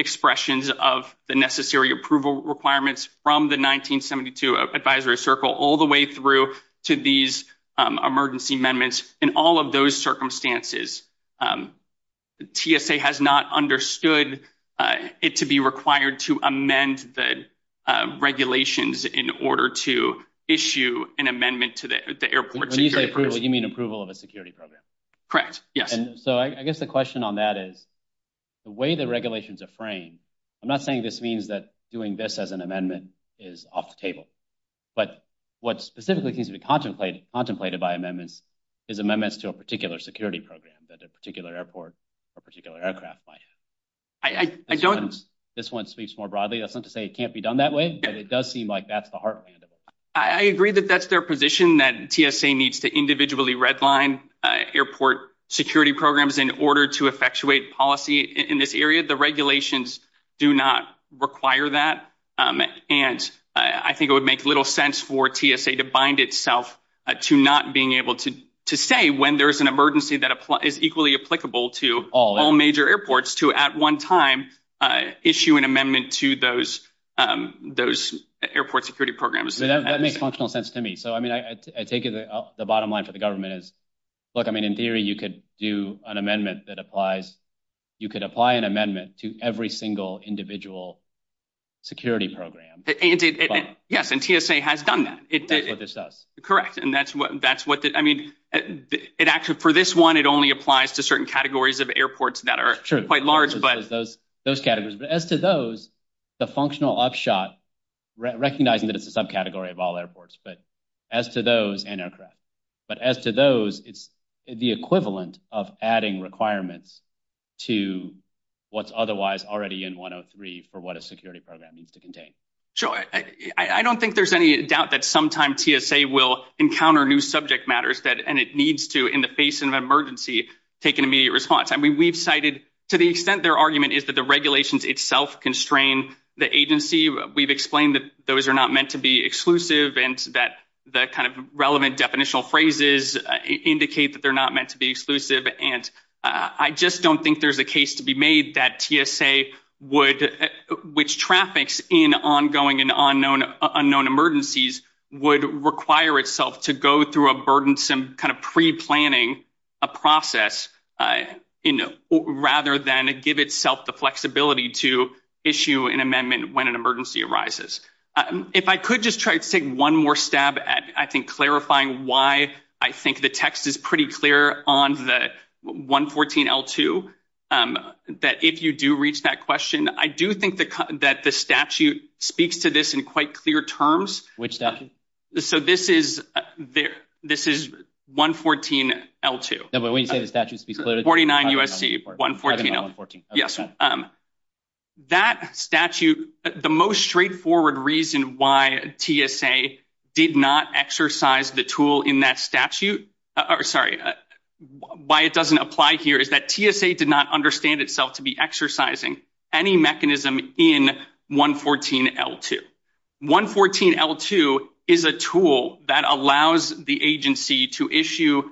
expressions of the necessary approval requirements from the 1972 advisory circle all the way through to these emergency amendments. In all of those circumstances, TSA has not understood it to be required to amend the regulations in order to issue an amendment to the airport. When you say approval, you mean approval of a security program? Correct. And so I guess the question on that is the way the regulations are framed, I'm not saying this means that doing this as an amendment is off the table, but what specifically needs to be contemplated by amendments is amendments to a particular security program that a particular airport or particular aircraft might have. I don't. This one speaks more broadly. It's not to say it can't be done that way, but it does seem like that's the heart of it. I agree that that's their position that TSA needs to individually redline airport security programs in order to effectuate policy in this area. The regulations do not require that. And I think it would make little sense for TSA to bind itself to not being able to say when there's an emergency that is equally applicable to all major airports to at one time issue an amendment to those airport security programs. That makes functional sense to me. So, I mean, I think the bottom line for the government is, look, I mean, in theory, you could do an amendment that applies, you could apply an amendment to every single individual security program. Yes, and TSA has done that. Correct. And that's what, I mean, it actually, for this one, it only applies to certain categories of airports that are quite large. Sure, those categories. But as to those, the functional upshot, recognizing that it's a subcategory of all airports, but as to those, and aircraft, but as to those, it's the equivalent of adding requirements to what's otherwise already in 103 for what a security program needs to contain. Sure, I don't think there's any doubt that sometime TSA will encounter new subject matters and it needs to, in the face of an emergency, take an immediate response. I mean, we've cited to the extent their argument is that the regulations itself constrain the agency. We've explained that those are not meant to be exclusive and that the kind of relevant definitional phrases indicate that they're not meant to be exclusive. And I just don't think there's a case to be made that TSA would, which traffics in ongoing and unknown emergencies, would require itself to go through a burdensome kind of pre-planning process rather than give itself the flexibility to issue an amendment when an emergency arises. If I could just try to take one more stab at, I think, clarifying why I think the text is pretty clear on the 114-L2, that if you do reach that question, I do think that the statute speaks to this in quite clear terms. Which statute? So, this is 114-L2. No, but when you say the statute speaks to it- 49 USC, 114-L2. That statute, the most straightforward reason why TSA did not exercise the tool in that statute, sorry, why it doesn't apply here is that TSA did not understand itself to be exercising any mechanism in 114-L2. 114-L2 is a tool that allows the agency to issue,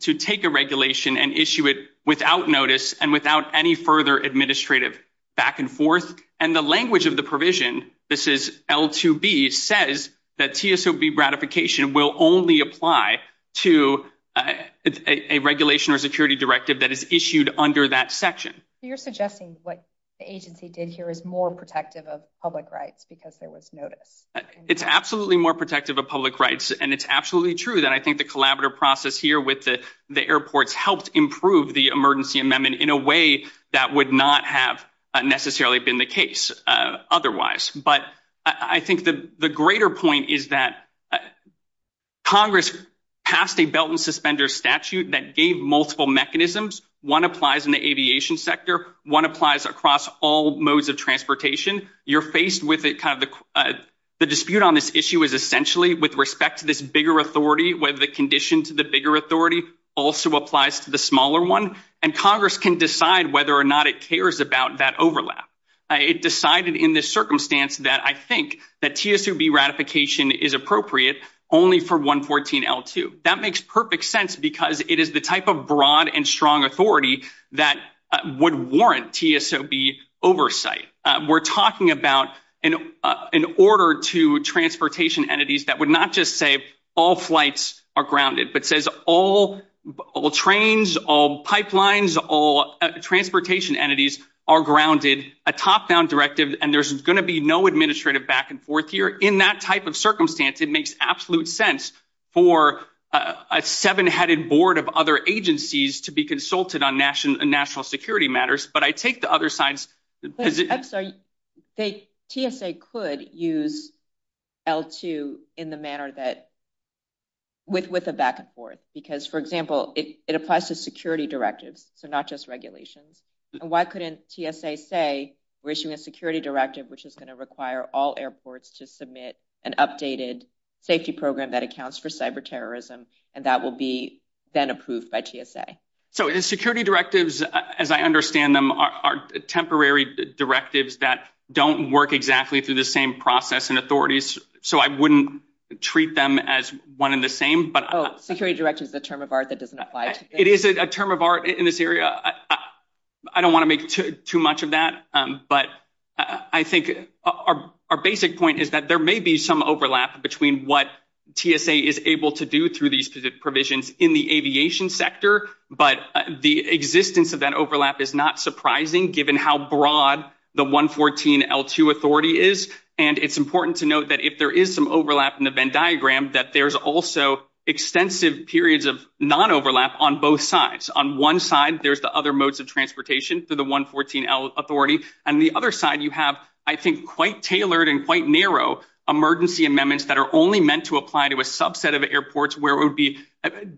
to take a regulation and issue it without notice and without any further administrative back and forth. And the language of the provision, this is L2B, says that CSOB ratification will only apply to a regulation or security directive that is issued under that section. So, you're suggesting what the agency did here is more protective of public rights because there was notice? It's absolutely more protective of public rights. And it's absolutely true that I think the collaborative process here with the airports helped improve the emergency amendment in a way that would not have necessarily been the case otherwise. But I think the greater point is that Congress passed a belt and suspender statute that gave multiple mechanisms. One applies in the aviation sector. One applies across all modes of transportation. You're faced with it, the dispute on this issue is essentially with respect to this whether the condition to the bigger authority also applies to the smaller one. And Congress can decide whether or not it cares about that overlap. It decided in this circumstance that I think that CSOB ratification is appropriate only for 114-L2. That makes perfect sense because it is the type of broad and strong authority that would warrant CSOB oversight. We're talking about an order to transportation entities that would not just say all flights are grounded, but says all trains, all pipelines, all transportation entities are grounded, a top-down directive, and there's going to be no administrative back and forth here. In that type of circumstance, it makes absolute sense for a seven-headed board of other agencies to be consulted on national security matters. But I take the other side. I'm sorry, TSA could use L2 in the manner that, with a back and forth. Because, for example, it applies to security directives, so not just regulations. And why couldn't TSA say we're issuing a security directive which is going to require all airports to submit an updated safety program that accounts for cyberterrorism, and that will be then approved by TSA? So, the security directives, as I understand them, are temporary directives that don't work exactly through the same process and authorities. So, I wouldn't treat them as one and the same. Oh, security directive is a term of art that doesn't apply. It is a term of art in this area. I don't want to make too much of that, but I think our basic point is that there may be some overlap between what TSA is able to do through these provisions in the aviation sector. But the existence of that overlap is not surprising, given how broad the 114 L2 authority is. And it's important to note that if there is some overlap in the Venn diagram, that there's also extensive periods of non-overlap on both sides. On one side, there's the other modes of transportation through the 114 L authority. And the other side, you have, I think, quite tailored and quite narrow emergency amendments that are only meant to apply to a subset of airports, where it would be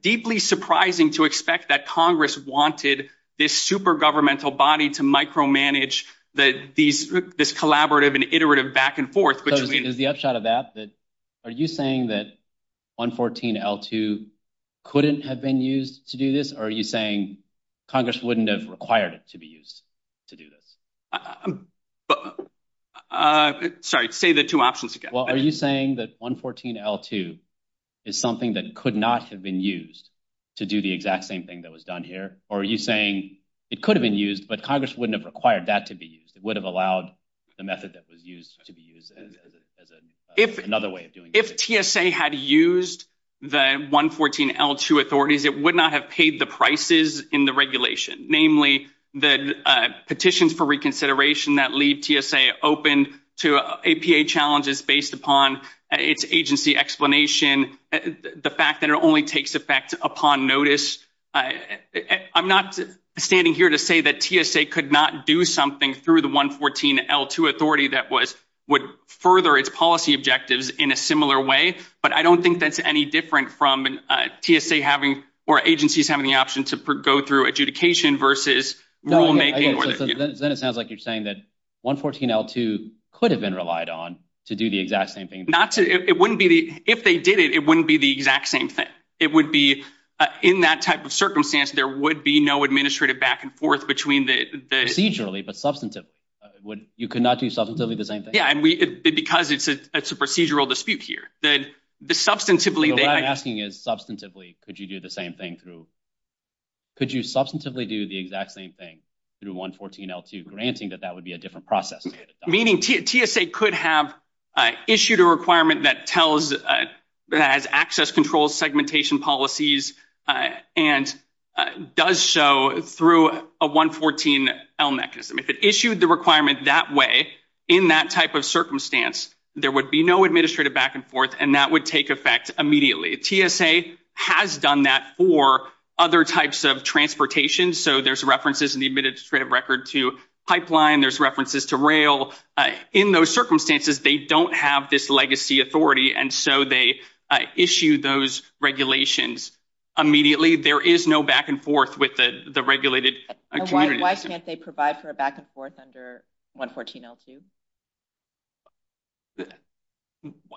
deeply surprising to expect that Congress wanted this super governmental body to micromanage this collaborative and iterative back and forth. So, is the upshot of that, are you saying that 114 L2 couldn't have been used to do this? Or are you saying Congress wouldn't have required it to be used to do this? Sorry, say the two options again. Are you saying that 114 L2 is something that could not have been used to do the exact same thing that was done here? Or are you saying it could have been used, but Congress wouldn't have required that to be used? It would have allowed the method that was used to be used as another way of doing it? If TSA had used the 114 L2 authorities, it would not have paid the prices in the regulation. Namely, the petitions for reconsideration that leave TSA open to APA challenges based upon its agency explanation, the fact that it only takes effect upon notice. I'm not standing here to say that TSA could not do something through the 114 L2 authority that would further its policy objectives in a similar way. But I don't think that's any different from TSA having, or agencies having the option to go through adjudication versus rulemaking. Then it sounds like you're saying that 114 L2 could have been relied on to do the exact same thing. Not to, it wouldn't be, if they did it, it wouldn't be the exact same thing. It would be in that type of circumstance, there would be no administrative back and forth between the- Procedurally, but substantive. You could not do substantively the same thing? Yeah, and we, because it's a procedural dispute here. Then the substantively- What I'm asking is substantively, could you do the same thing through, could you substantively do the exact same thing through 114 L2, granting that that would be a different process? Meaning TSA could have issued a requirement that tells, that has access control segmentation policies and does so through a 114 L mechanism. If it issued the requirement that way, in that type of circumstance, there would be administrative back and forth and that would take effect immediately. TSA has done that for other types of transportation, so there's references in the administrative record to pipeline, there's references to rail. In those circumstances, they don't have this legacy authority, and so they issue those regulations immediately. There is no back and forth with the regulated- Why can't they provide for a back and forth under 114 L2?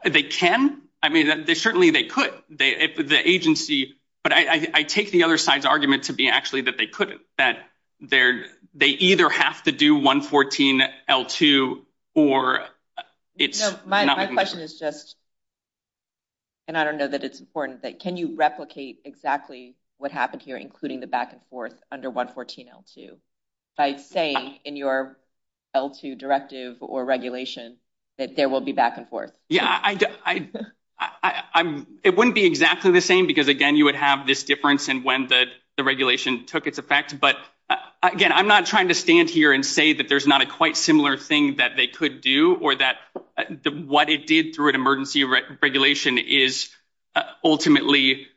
They can. I mean, certainly they could. The agency, but I take the other side's argument to be actually that they could, that they either have to do 114 L2 or it's not- My question is just, and I don't know that it's important, but can you replicate exactly what happened here, including the back and forth under 114 L2, by saying in your L2 directive or regulation that there will be back and forth? Yeah, it wouldn't be exactly the same because, again, you would have this difference in when the regulation took its effect, but again, I'm not trying to stand here and say that there's not a quite similar thing that they could do or that what it did through an emergency regulation is ultimately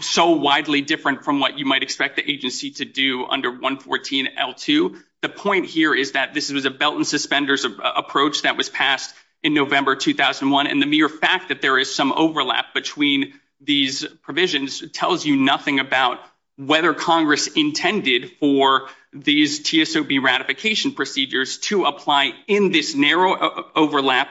so widely different from what you might expect the agency to do under 114 L2. The point here is that this is a belt and suspenders approach that was passed in November 2001, and the mere fact that there is some overlap between these provisions tells you nothing about whether Congress intended for these TSOB ratification procedures to apply in this narrow overlap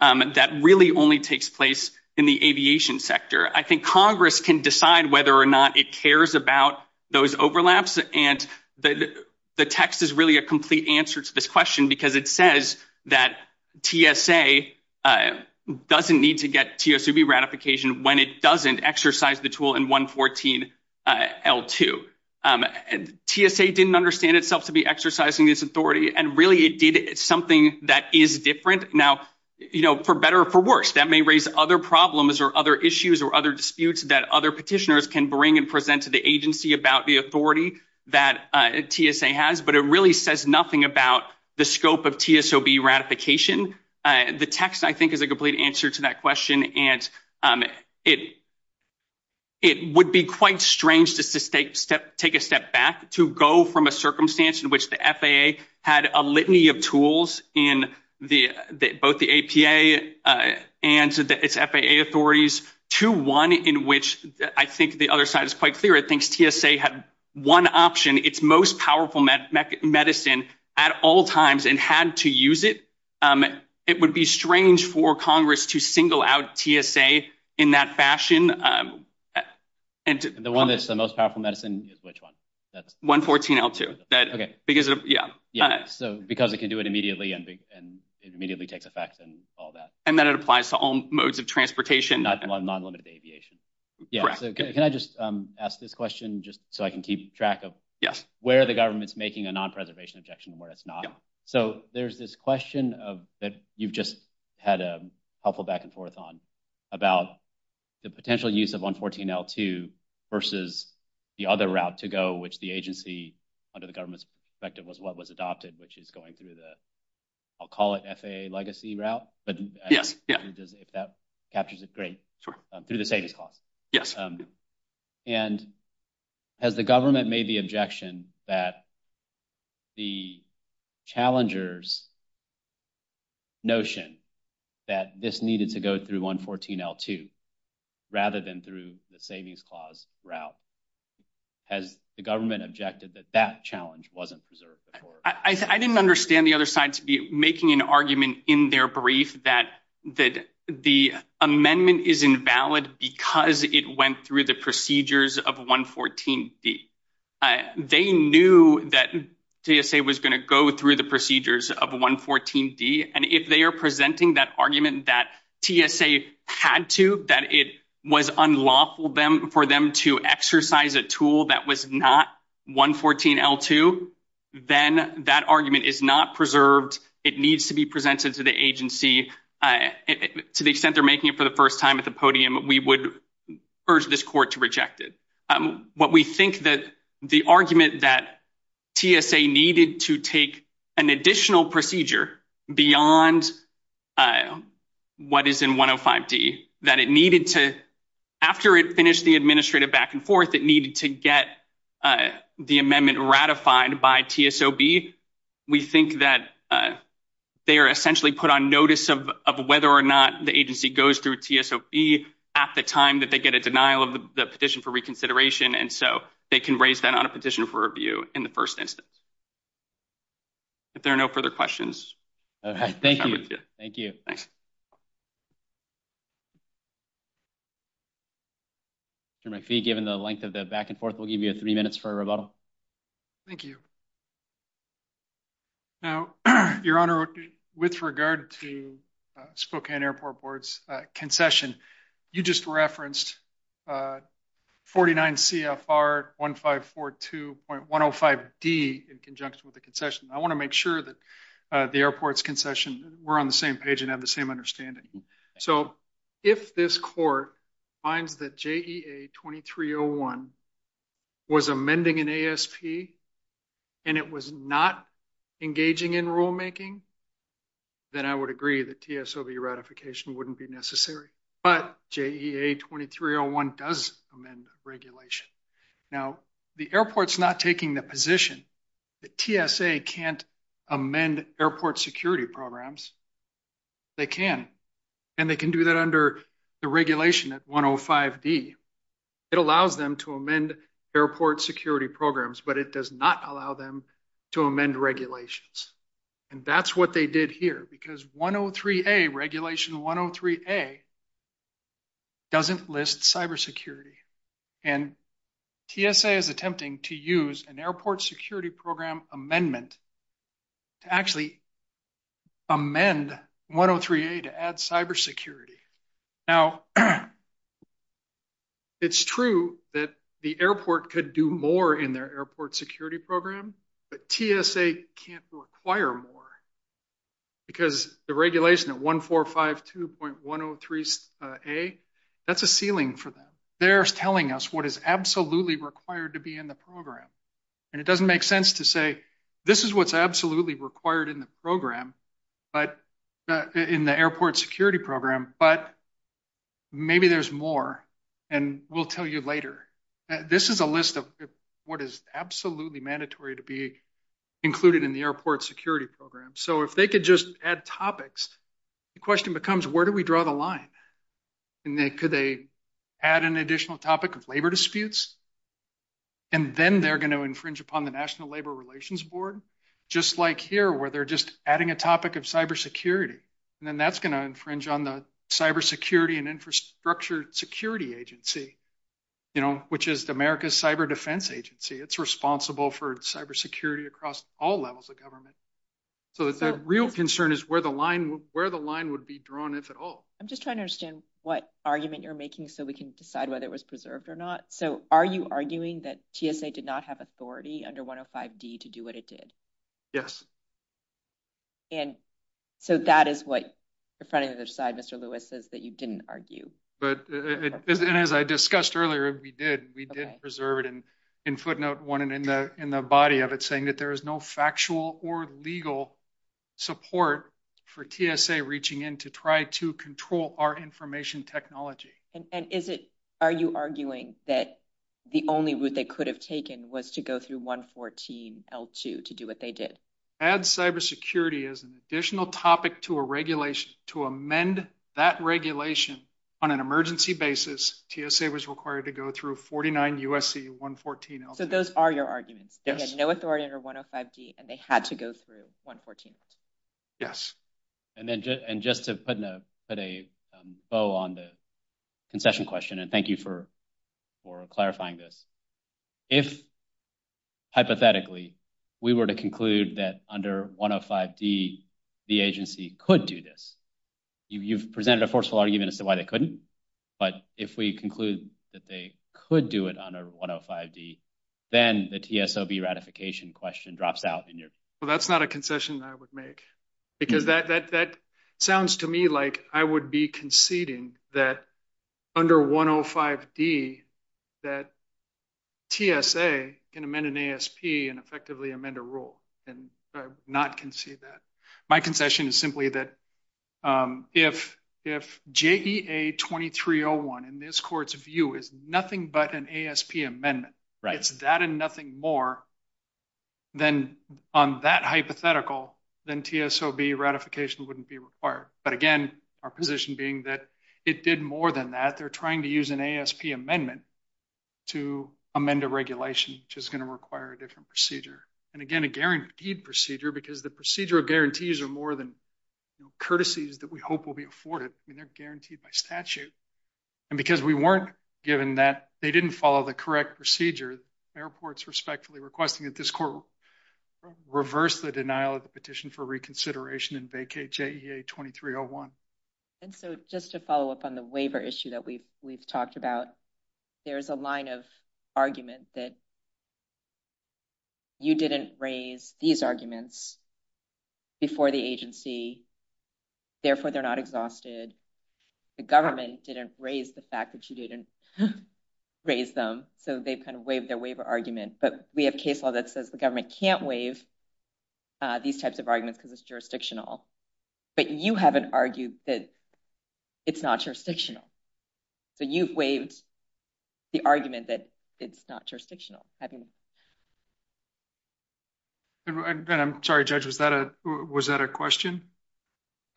that really only takes place in the aviation sector. I think Congress can decide whether or not it cares about those overlaps, and the text is really a complete answer to this question because it says that TSA doesn't need to get TSOB ratification when it doesn't exercise the tool in 114 L2. TSA didn't understand itself to be exercising this authority, and really it did. It's something that is different. Now, for better or for worse, that may raise other problems or other issues or other disputes that other petitioners can bring and present to the agency about the authority that TSA has, but it really says nothing about the scope of TSOB ratification. The text, I think, is a complete answer to that question, and it would be quite strange just to take a step back to go from a circumstance in which the FAA had a litany of tools in both the APA and its FAA authorities to one in which I think the other side is quite clear. I think TSA had one option, its most powerful medicine at all times, and had to use it. It would be strange for Congress to single out TSA in that fashion. The one that's the most powerful medicine is which one? 114 L2. Okay. Because it can do it immediately and it immediately takes effect and all that. And then it applies to all modes of transportation. Not to unlimited aviation. Yeah. Can I just ask this question just so I can keep track of where the government's making a non-preservation objection and where it's not? So there's this question that you've just had a helpful back and forth on about the potential use of 114 L2 versus the other route to go, which the agency, under the government's perspective, was what was adopted, which is going through the, I'll call it FAA legacy route, but if that captures it, great. Sure. Through the status quo. Yes. And has the government made the objection that the challenger's notion that this needed to go through 114 L2 rather than through the savings clause route? Has the government objected that that challenge wasn't preserved? I didn't understand the other side to be making an argument in their brief that the amendment is invalid because it went through the procedures of 114 D. They knew that TSA was going to go through the procedures of 114 D. And if they are presenting that argument that TSA had to, that it was unlawful for them to exercise a tool that was not 114 L2, then that argument is not preserved. It needs to be presented to the agency to the extent they're making it for the first time at the podium. We would urge this court to reject it. What we think that the argument that TSA needed to take an additional procedure beyond what is in 105 D, that it needed to, after it finished the administrative back and forth, it needed to get the amendment ratified by TSOB. We think that they are essentially put on notice of whether or not the agency goes through at the time that they get a denial of the petition for reconsideration. And so they can raise that on a petition for review in the first instance. If there are no further questions. All right. Thank you. Given the length of the back and forth, we'll give you three minutes for a rebuttal. Thank you. Now, Your Honor, with regard to Spokane Airport Board's concession, you just referenced 49 CFR 1542.105 D in conjunction with the concession. I want to make sure that the airport's concession were on the same page and have the same understanding. So, if this court finds that JEA 2301 was amending an ASP and it was not engaging in rulemaking, then I would agree that TSOB ratification wouldn't be necessary. But JEA 2301 does amend the regulation. Now, the airport's not taking the position that TSA can't amend airport security programs. They can. And they can do that under the regulation at 105 D. It allows them to amend airport security programs, but it does not allow them to amend regulations. And that's what they did here. Because 103 A, regulation 103 A, doesn't list cybersecurity. And TSA is attempting to use an airport security program amendment to actually amend 103 A to add cybersecurity. Now, it's true that the airport could do more in their airport security program, but TSA can't require more. Because the regulation at 1452.103 A, that's a ceiling for them. They're telling us what is absolutely required to be in the program. And it doesn't make sense to say, this is what's absolutely required in the program. But in the airport security program. But maybe there's more. And we'll tell you later. This is a list of what is absolutely mandatory to be included in the airport security program. So if they could just add topics, the question becomes, where do we draw the line? And could they add an additional topic of labor disputes? And then they're going to infringe upon the National Labor Relations Board. Just like here, where they're just adding a topic of cybersecurity. And then that's going to infringe on the Cybersecurity and Infrastructure Security Agency. You know, which is America's cyber defense agency. It's responsible for cybersecurity across all levels of government. So the real concern is where the line would be drawn, if at all. I'm just trying to understand what argument you're making, so we can decide whether it was preserved or not. So are you arguing that TSA did not have authority under 105D to do what it did? Yes. And so that is what the front of the slide, Mr. Lewis, says that you didn't argue. But as I discussed earlier, we did. We did preserve it. And in footnote one in the body of it, saying that there is no factual or legal support for TSA reaching in to try to control our information technology. And is it, are you arguing that the only route they could have taken was to go through 114L2 to do what they did? Add cybersecurity as an additional topic to a regulation. To amend that regulation on an emergency basis, TSA was required to go through 49 USC 114L2. So those are your arguments. They had no authority under 105D, and they had to go through 114L2. Yes. And then just to put a bow on the concession question, and thank you for clarifying this. If, hypothetically, we were to conclude that under 105D the agency could do this, you've presented a forceful argument as to why they couldn't. But if we conclude that they could do it under 105D, then the TSOB ratification question drops out in your. So that's not a concession that I would make, because that sounds to me like I would be conceding that under 105D that TSA can amend an ASP and effectively amend a rule. And I would not concede that. My concession is simply that if JEA 2301, in this court's view, is nothing but an ASP amendment, it's that and nothing more on that hypothetical, then TSOB ratification wouldn't be required. But again, our position being that it did more than that. They're trying to use an ASP amendment to amend a regulation, which is going to require a different procedure. And again, a guaranteed procedure, because the procedural guarantees are more than courtesies that we hope will be afforded. They're guaranteed by statute. And because we weren't given that, they didn't follow the correct procedure. Airports respectfully requesting that this court reverse the denial of the petition for reconsideration and vacate JEA 2301. And so just to follow up on the waiver issue that we've talked about, there's a line of argument that you didn't raise these arguments before the agency. Therefore, they're not exhausted. The government didn't raise the fact that you didn't raise them. So they kind of waived their waiver argument. But we have a case law that says the government can't waive these types of arguments because it's jurisdictional. But you haven't argued that it's not jurisdictional. So you've waived the argument that it's not jurisdictional. I'm sorry, Judge, was that a question?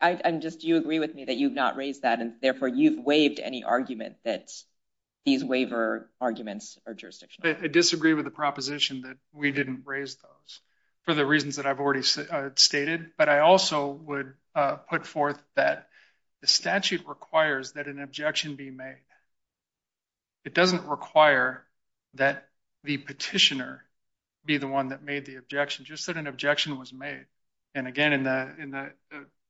I'm just, do you agree with me that you've not raised that and therefore you've waived any argument that these waiver arguments are jurisdictional? I disagree with the proposition that we didn't raise those for the reasons that I've already stated. But I also would put forth that the statute requires that an objection be made. It doesn't require that the petitioner be the one that made the objection. Just that an objection was made. And again, in the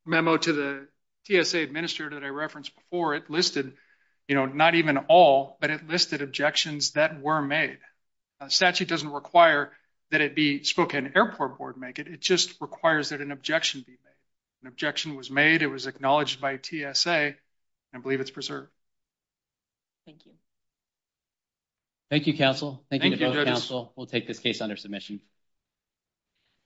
memo to the TSA administrator that I referenced before, it listed, you know, not even all, but it listed objections that were made. Statute doesn't require that it be spoken. Airport Board make it. It just requires that an objection be made. An objection was made. It was acknowledged by TSA and I believe it's preserved. Thank you. Thank you, counsel. Thank you, counsel. We'll take this case under submission.